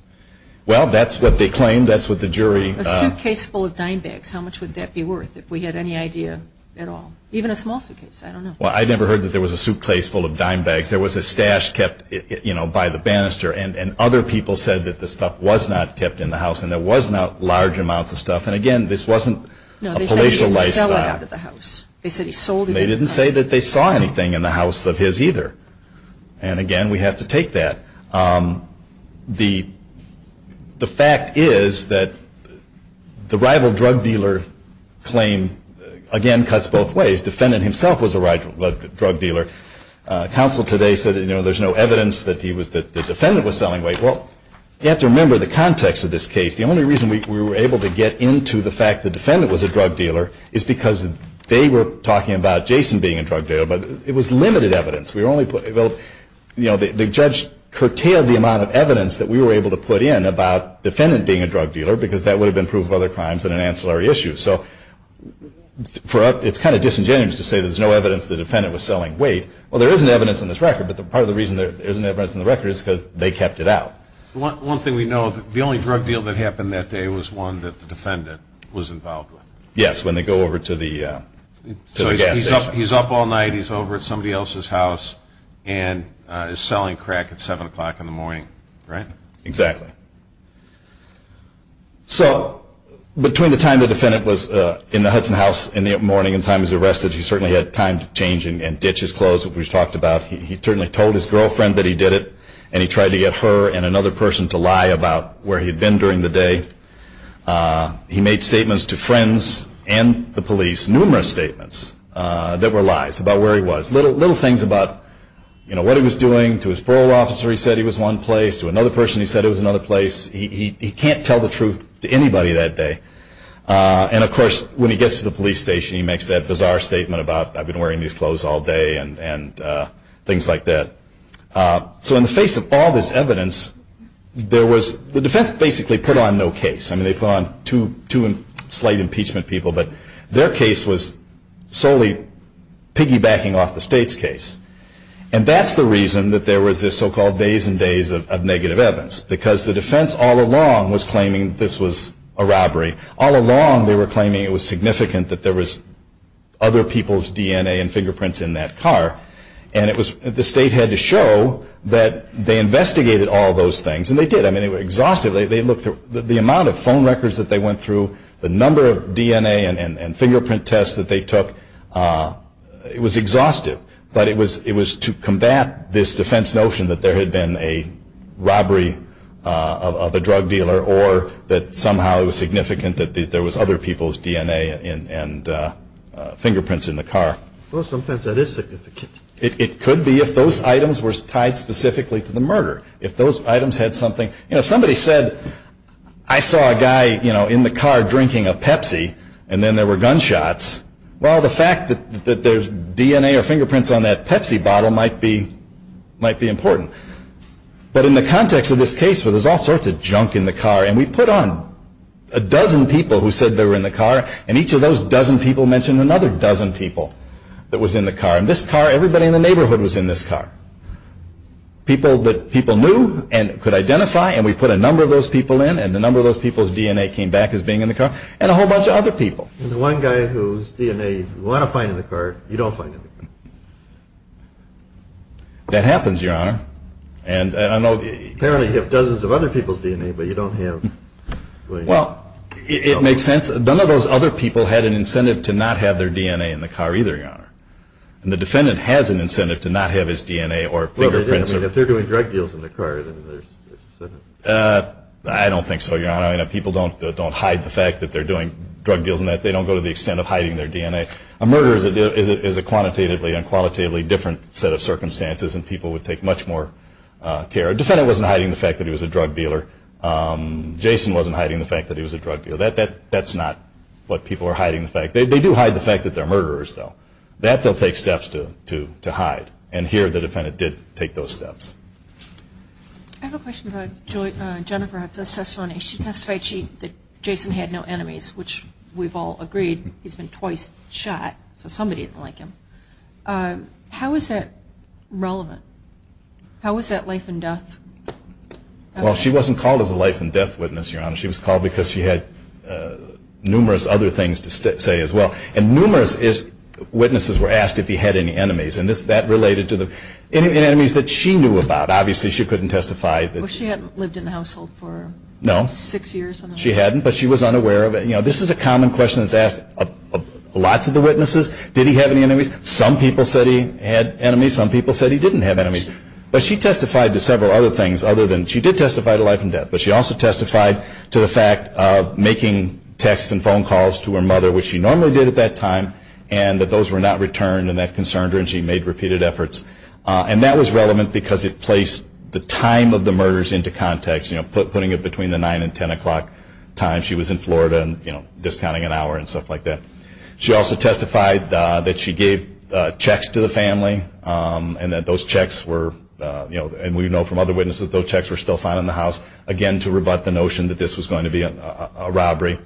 Well, that's what they claimed. That's what the jury- A suitcase full of dime bags. How much would that be worth if we had any idea at all? Even a small suitcase. I don't know. Well, I never heard that there was a suitcase full of dime bags. There was a stash kept, you know, by the banister. And other people said that the stuff was not kept in the house, and there was large amounts of stuff. And, again, this wasn't a palatial lifestyle. No, they said he stole it out of the house. They didn't say that they saw anything in the house of his either. And, again, we have to take that. The fact is that the rival drug dealer claim, again, cuts both ways. The defendant himself was a rival drug dealer. Counsel today said there's no evidence that the defendant was selling weight. Well, you have to remember the context of this case. The only reason we were able to get into the fact the defendant was a drug dealer is because they were talking about Jason being a drug dealer, but it was limited evidence. The judge curtailed the amount of evidence that we were able to put in about the defendant being a drug dealer because that would have been proof of other crimes and an ancillary issue. So it's kind of disingenuous to say there's no evidence the defendant was selling weight. Well, there is evidence in this record, but part of the reason there isn't evidence in the record is because they kept it out. One thing we know, the only drug deal that happened that day was one that the defendant was involved with. Yes, when they go over to the gas station. He's up all night. He's over at somebody else's house and is selling crack at 7 o'clock in the morning, right? Exactly. So between the time the defendant was in the Hudson house in the morning and the time he was arrested, he certainly had time to change and ditch his clothes, which we've talked about. He certainly told his girlfriend that he did it, and he tried to get her and another person to lie about where he'd been during the day. He made statements to friends and the police, numerous statements that were lies about where he was. Little things about what he was doing to his parole officer, he said he was one place, to another person he said he was another place. He can't tell the truth to anybody that day. And, of course, when he gets to the police station, he makes that bizarre statement about, I've been wearing these clothes all day and things like that. So in the face of all this evidence, the defense basically put on no case. I mean, they put on two slight impeachment people, but their case was solely piggybacking off the state's case. And that's the reason that there were these so-called days and days of negative evidence, because the defense all along was claiming this was a robbery. All along they were claiming it was significant that there was other people's DNA and fingerprints in that car. And the state had to show that they investigated all those things, and they did. I mean, it was exhaustive. The amount of phone records that they went through, the number of DNA and fingerprint tests that they took, it was exhaustive. But it was to combat this defense notion that there had been a robbery of a drug dealer or that somehow it was significant that there was other people's DNA and fingerprints in the car. Well, sometimes that is significant. It could be if those items were tied specifically to the murder, if those items had something. You know, somebody said, I saw a guy in the car drinking a Pepsi, and then there were gunshots. Well, the fact that there's DNA or fingerprints on that Pepsi bottle might be important. But in the context of this case where there's all sorts of junk in the car, and we put on a dozen people who said they were in the car, and each of those dozen people mentioned another dozen people that was in the car. And this car, everybody in the neighborhood was in this car. People that people knew and could identify, and we put a number of those people in, and the number of those people's DNA came back as being in the car, and a whole bunch of other people. There's one guy whose DNA you want to find in the car, you don't find in the car. That happens, Your Honor. Apparently you have dozens of other people's DNA, but you don't have... Well, it makes sense. None of those other people had an incentive to not have their DNA in the car either, Your Honor. And the defendant has an incentive to not have his DNA or fingerprints. Well, if they're doing drug deals in the car, then there's... I don't think so, Your Honor. People don't hide the fact that they're doing drug deals. They don't go to the extent of hiding their DNA. A murder is a quantitatively and qualitatively different set of circumstances, and people would take much more care. The defendant wasn't hiding the fact that he was a drug dealer. Jason wasn't hiding the fact that he was a drug dealer. That's not what people are hiding. They do hide the fact that they're murderers, though. That they'll take steps to hide, and here the defendant did take those steps. I have a question about Jennifer. She testified that Jason had no enemies, which we've all agreed he's been twice shot, so somebody is like him. How is that relevant? How is that life and death? Well, she wasn't called as a life and death witness, Your Honor. She was called because she had numerous other things to say as well, and numerous witnesses were asked if he had any enemies, and that related to the enemies that she knew about. Obviously, she couldn't testify. Well, she hadn't lived in the household for six years. No, she hadn't, but she was unaware of it. You know, this is a common question that's asked of lots of the witnesses. Did he have any enemies? Some people said he had enemies. Some people said he didn't have enemies. But she testified to several other things other than she did testify to life and death, but she also testified to the fact of making texts and phone calls to her mother, which she normally did at that time, and that those were not returned and that concerned her, and she made repeated efforts. And that was relevant because it placed the time of the murders into context, putting it between the 9 and 10 o'clock time she was in Florida and, you know, discounting an hour and stuff like that. She also testified that she gave checks to the family, and that those checks were, you know, and we know from other witnesses, those checks were still found in the house, again, to rebut the notion that this was going to be a robbery.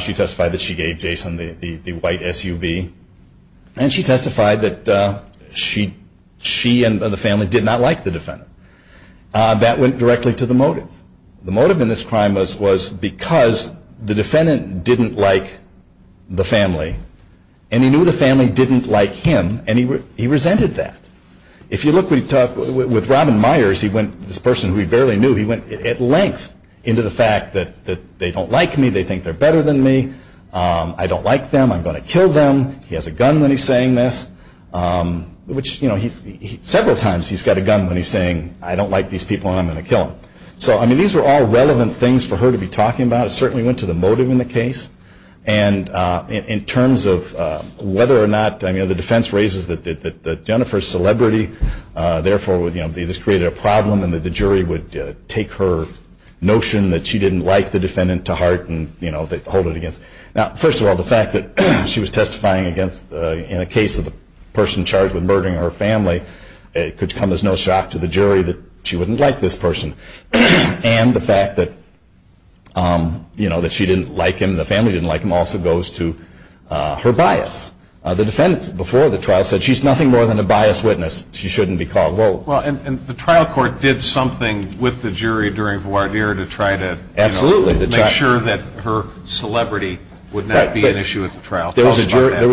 She testified that she gave Jason the white SUV, and she testified that she and the family did not like the defendant. That went directly to the motive. The motive in this crime was because the defendant didn't like the family, and he knew the family didn't like him, and he resented that. If you look with Robin Myers, he went, this person who he barely knew, he went at length into the fact that they don't like me, they think they're better than me, I don't like them, I'm going to kill them, he has a gun when he's saying this, which, you know, several times he's got a gun when he's saying, I don't like these people and I'm going to kill them. So, I mean, these were all relevant things for her to be talking about. It certainly went to the motive in the case. And in terms of whether or not, I mean, the defense raises that Jennifer's celebrity, therefore this created a problem in that the jury would take her notion that she didn't like the defendant to heart and, you know, hold it against her. Now, first of all, the fact that she was testifying against, in a case of a person charged with murdering her family, it could come as no shock to the jury that she wouldn't like this person. And the fact that, you know, that she didn't like him, the family didn't like him, also goes to her bias. The defendant, before the trial, said she's nothing more than a biased witness. She shouldn't be called. Well, and the trial court did something with the jury during voir dire to try to make sure that her celebrity would not be an issue at the trial. There was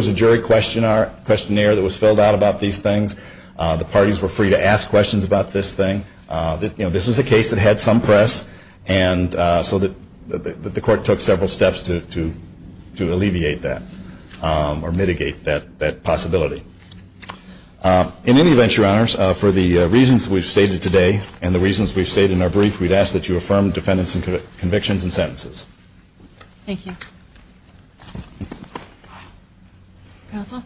a jury questionnaire that was filled out about these things. The parties were free to ask questions about this thing. You know, this is a case that had some press, and so the court took several steps to alleviate that or mitigate that possibility. In any event, Your Honors, for the reasons we've stated today and the reasons we've stated in our brief, we'd ask that you affirm the defendant's convictions and sentences. Thank you. Counsel?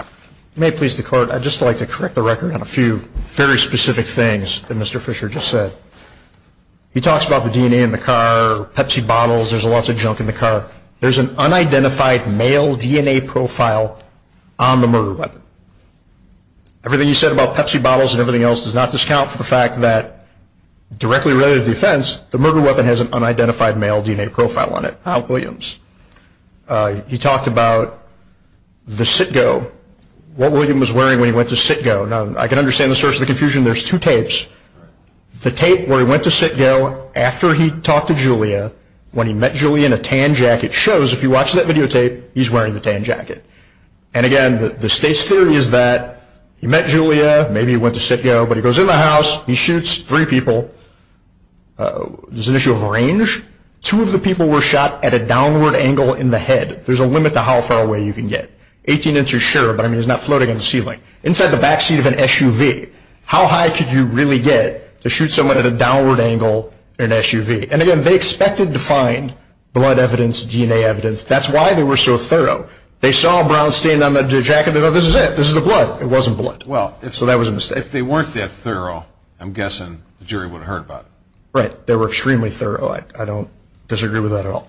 If you may, please, the Court, I'd just like to correct the record on a few very specific things that Mr. Fisher just said. He talks about the DNA in the car, Pepsi bottles, there's lots of junk in the car. There's an unidentified male DNA profile on the murder weapon. Everything you said about Pepsi bottles and everything else does not discount for the fact that, directly related to the offense, the murder weapon has an unidentified male DNA profile on it. How, Williams? He talked about the Citgo, what Williams was wearing when he went to Citgo. Now, I can understand the source of the confusion. There's two tapes. The tape where he went to Citgo after he talked to Julia, when he met Julia in a tan jacket, shows, if you watch that videotape, he's wearing the tan jacket. And, again, the state's theory is that he met Julia, maybe he went to Citgo, but he goes in the house, he shoots three people. There's an issue of range. Two of the people were shot at a downward angle in the head. There's a limit to how far away you can get. Eighteen inches, sure, but, I mean, it's not floating on the ceiling. Inside the backseat of an SUV, how high could you really get to shoot someone at a downward angle in an SUV? And, again, they expected to find blood evidence, DNA evidence. That's why they were so thorough. They saw Brown standing on the jacket. They thought, this is it, this is the blood. It wasn't blood. So that was a mistake. If they weren't that thorough, I'm guessing the jury would have heard about it. Right. They were extremely thorough. I don't disagree with that at all.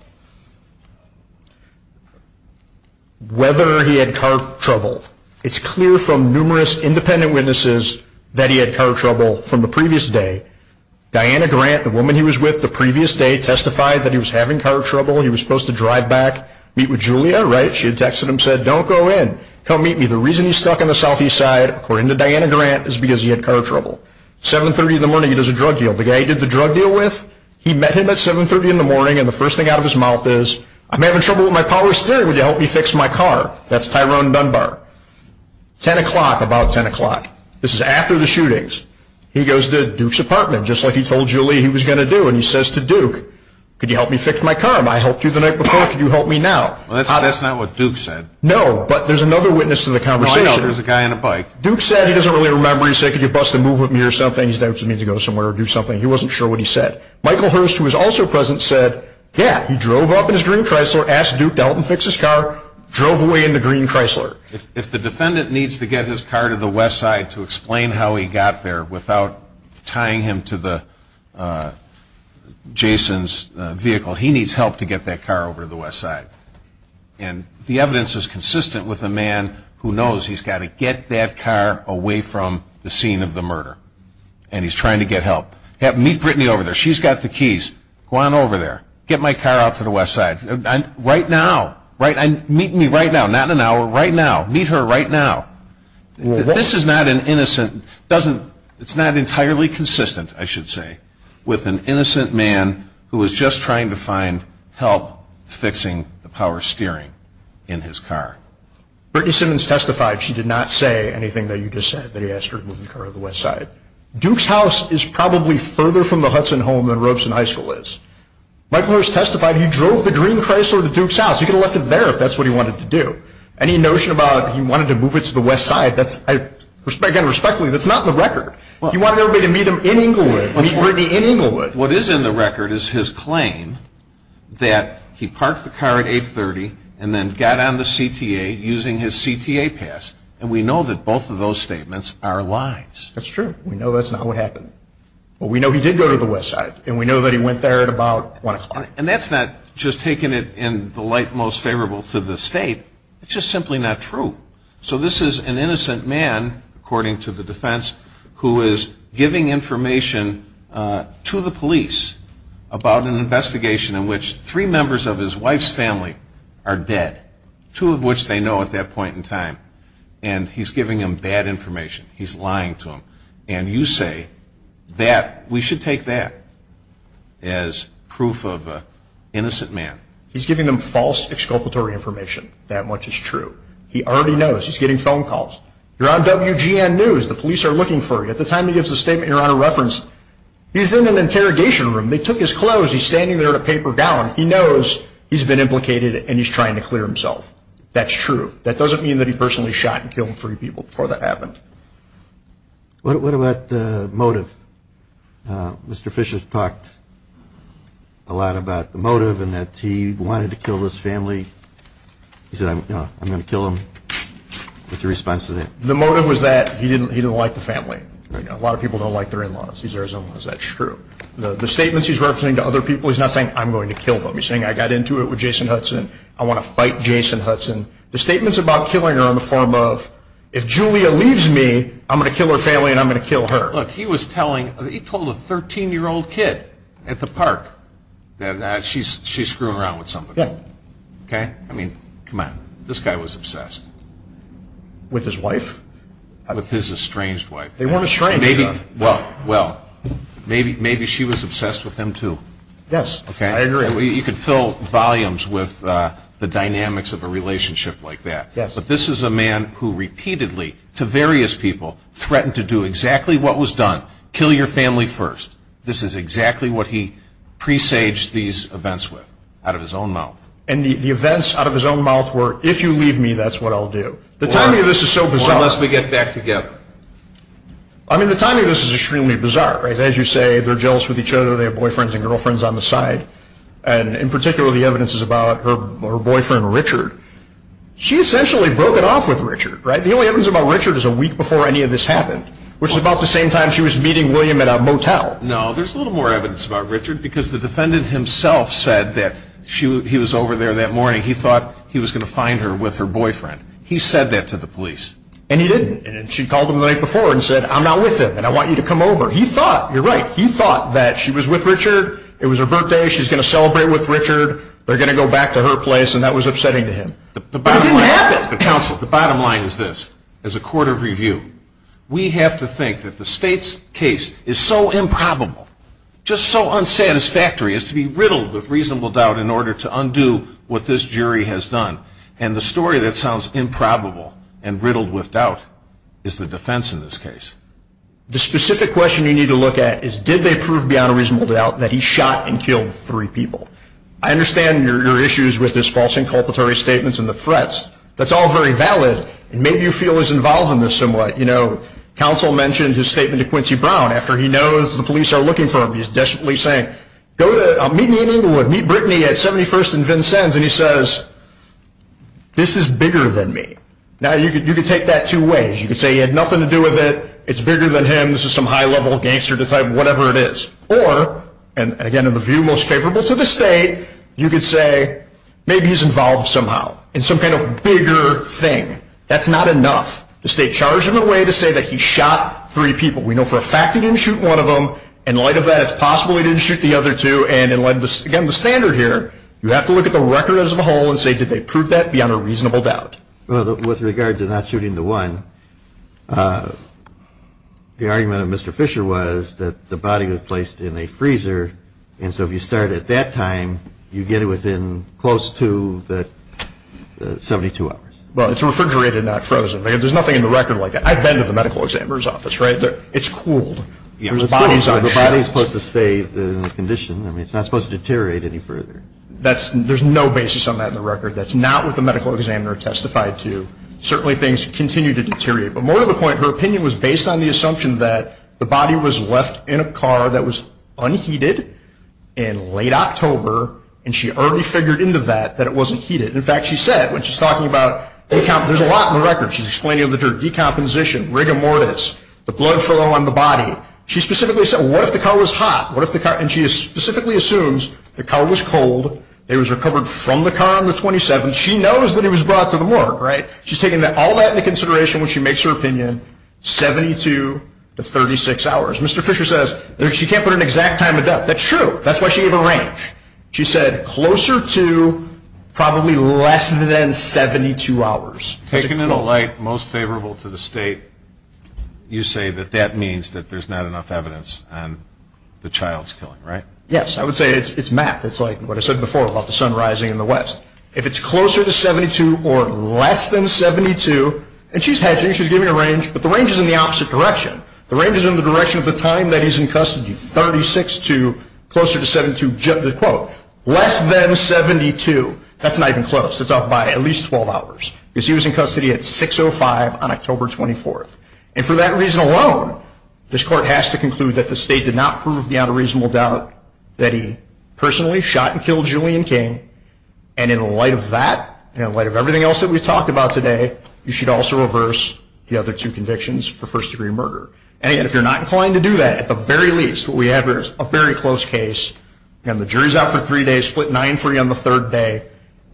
Whether he had car trouble. It's clear from numerous independent witnesses that he had car trouble from the previous day. Diana Grant, the woman he was with the previous day, testified that he was having car trouble. He was supposed to drive back, meet with Julia. Right. She had texted him, said, don't go in. Come meet me. The reason he's stuck in the southeast side, according to Diana Grant, is because he had car trouble. 730 in the morning, he does a drug deal. The guy he did the drug deal with, he met him at 730 in the morning, and the first thing out of his mouth is, I'm having trouble with my power steering. Would you help me fix my car? That's Tyrone Dunbar. 10 o'clock, about 10 o'clock. This is after the shootings. He goes to Duke's apartment, just like he told Julia he was going to do, and he says to Duke, could you help me fix my car? I helped you the night before. Could you help me now? That's not what Duke said. No, but there's another witness to the conversation. There's a guy on a bike. Duke said he doesn't really remember. He said, could you bust a move with me or something? He said, I just need to go somewhere or do something. He wasn't sure what he said. Michael Hurst, who was also present, said, yeah, he drove up in his green Chrysler, asked Duke to help him fix his car, drove away in the green Chrysler. If the defendant needs to get his car to the west side to explain how he got there without tying him to Jason's vehicle, he needs help to get that car over to the west side. And the evidence is consistent with a man who knows he's got to get that car away from the scene of the murder, and he's trying to get help. Meet Brittany over there. She's got the keys. Go on over there. Get my car out to the west side. Right now. Meet me right now. Not in an hour. Right now. Meet her right now. This is not an innocent, it's not entirely consistent, I should say, with an innocent man who was just trying to find help fixing the power steering in his car. Brittany Simmons testified she did not say anything that you just said, that he asked her to move the car to the west side. Duke's house is probably further from the Hudson home than Robeson High School is. Mike Morris testified he drove the green Chrysler to Duke's house. He could have left it there if that's what he wanted to do. Any notion about he wanted to move it to the west side, again respectfully, that's not in the record. He wanted everybody to meet him in Englewood. Meet Brittany in Englewood. What is in the record is his claim that he parked the car at 830 and then got on the CTA using his CTA pass. And we know that both of those statements are lies. That's true. We know that's not what happened. But we know he did go to the west side, and we know that he went there at about 1 o'clock. And that's not just taking it in the light most favorable to the state. It's just simply not true. So this is an innocent man, according to the defense, who is giving information to the police about an investigation in which three members of his wife's family are dead, two of which they know at that point in time. And he's giving them bad information. He's lying to them. And you say that we should take that as proof of an innocent man. He's giving them false exculpatory information. That much is true. He already knows. He's getting phone calls. You're on WGN News. The police are looking for you. At the time he gives a statement, you're on a reference. He's in an interrogation room. They took his clothes. He's standing there in a paper gown. He knows he's been implicated, and he's trying to clear himself. That's true. That doesn't mean that he personally shot and killed three people before that happened. What about the motive? Mr. Fish has talked a lot about the motive and that he wanted to kill his family. He said, I'm going to kill him. What's your response to that? The motive was that he didn't like the family. A lot of people don't like their in-laws. He's their son-in-law. That's true. The statement he's referencing to other people is not saying, I'm going to kill them. He's saying, I got into it with Jason Hudson. I want to fight Jason Hudson. The statement's about killing her in the form of, if Julia leaves me, I'm going to kill her family and I'm going to kill her. Look, he told a 13-year-old kid at the park that she's screwing around with somebody. I mean, come on. This guy was obsessed. With his wife? With his estranged wife. They weren't estranged. Well, maybe she was obsessed with him, too. Yes, I agree. You could fill volumes with the dynamics of a relationship like that. But this is a man who repeatedly, to various people, threatened to do exactly what was done. Kill your family first. This is exactly what he presaged these events with, out of his own mouth. And the events out of his own mouth were, if you leave me, that's what I'll do. Unless we get back together. I mean, the timing of this is extremely bizarre. As you say, they're jealous with each other. They have boyfriends and girlfriends on the side. And in particular, the evidence is about her boyfriend, Richard. She essentially broke it off with Richard. The only evidence about Richard is a week before any of this happened. Which is about the same time she was meeting William at a motel. No, there's a little more evidence about Richard. Because the defendant himself said that he was over there that morning. He thought he was going to find her with her boyfriend. He said that to the police. And he didn't. And she called him the night before and said, I'm not with him and I want you to come over. He thought, you're right, he thought that she was with Richard. It was her birthday. She's going to celebrate with Richard. They're going to go back to her place. And that was upsetting to him. The bottom line is this. As a court of review, we have to think that the state's case is so improbable, just so unsatisfactory as to be riddled with reasonable doubt in order to undo what this jury has done. And the story that sounds improbable and riddled with doubt is the defense in this case. The specific question you need to look at is did they prove beyond a reasonable doubt that he shot and killed three people? I understand your issues with his false inculpatory statements and the threats. That's all very valid. Maybe you feel as involved in this somewhat. You know, counsel mentioned his statement to Quincy Brown after he knows the police are looking for him. He's desperately saying, go to meet me in Englewood. Meet Brittany at 71st and Vincennes. And he says, this is bigger than me. Now, you could take that two ways. You could say he had nothing to do with it. It's bigger than him. This is some high-level gangster type whatever it is. Or, and again, in the view most capable to the state, you could say maybe he's involved somehow in some kind of bigger thing. That's not enough. The state charged him in a way to say that he shot three people. We know for a fact he didn't shoot one of them. In light of that, it's possible he didn't shoot the other two. And again, the standard here, you have to look at the record as a whole and say did they prove that beyond a reasonable doubt. With regards to not shooting the one, the argument of Mr. Fisher was that the body was placed in a freezer. And so if you start at that time, you get it within close to the 72 hours. Well, it's refrigerated, not frozen. There's nothing in the record like that. I've been to the medical examiner's office, right? It's cooled. The body is supposed to stay in the condition. I mean, it's not supposed to deteriorate any further. There's no basis on that in the record. That's not what the medical examiner testified to. Certainly things continue to deteriorate. But more to the point, her opinion was based on the assumption that the body was left in a car that was unheated in late October, and she already figured into that that it wasn't heated. In fact, she said when she's talking about there's a lot in the record. She's explaining the decomposition, rigor mortis, the blood flow on the body. She specifically said what if the car was hot? And she specifically assumes the car was cold. It was recovered from the car on the 27th. She knows that it was brought to the morgue, right? She's taking all that into consideration when she makes her opinion, 72 to 36 hours. Mr. Fisher says she can't put an exact time in doubt. That's true. That's why she gave a range. She said closer to probably less than 72 hours. Taken in a light most favorable to the state, you say that that means that there's not enough evidence and the child's killing, right? Yes. I would say it's math. It's like what I said before about the sun rising in the west. If it's closer to 72 or less than 72, and she's hedging. She's giving a range, but the range is in the opposite direction. The range is in the direction of the time that he's in custody, 36 to closer to 72, quote, less than 72. That's not even close. It's up by at least 12 hours because he was in custody at 6.05 on October 24th. And for that reason alone, this court has to conclude that the state did not prove beyond a reasonable doubt that he personally shot and killed Julian King. And in light of that and in light of everything else that we've talked about today, you should also reverse the other two convictions for first-degree murder. And, again, if you're not inclined to do that, at the very least, what we have here is a very close case. Again, the jury's out for three days, split nine-three on the third day.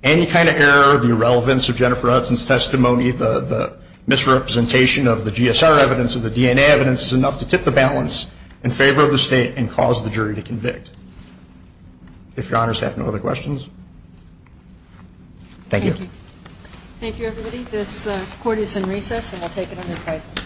Any kind of error or irrelevance of Jennifer Hudson's testimony, the misrepresentation of the GSR evidence or the DNA evidence, is enough to tip the balance in favor of the state and cause the jury to convict. If your honors have no other questions, thank you. Thank you. Thank you, everybody. This court is in recess, and I'll take it on this day.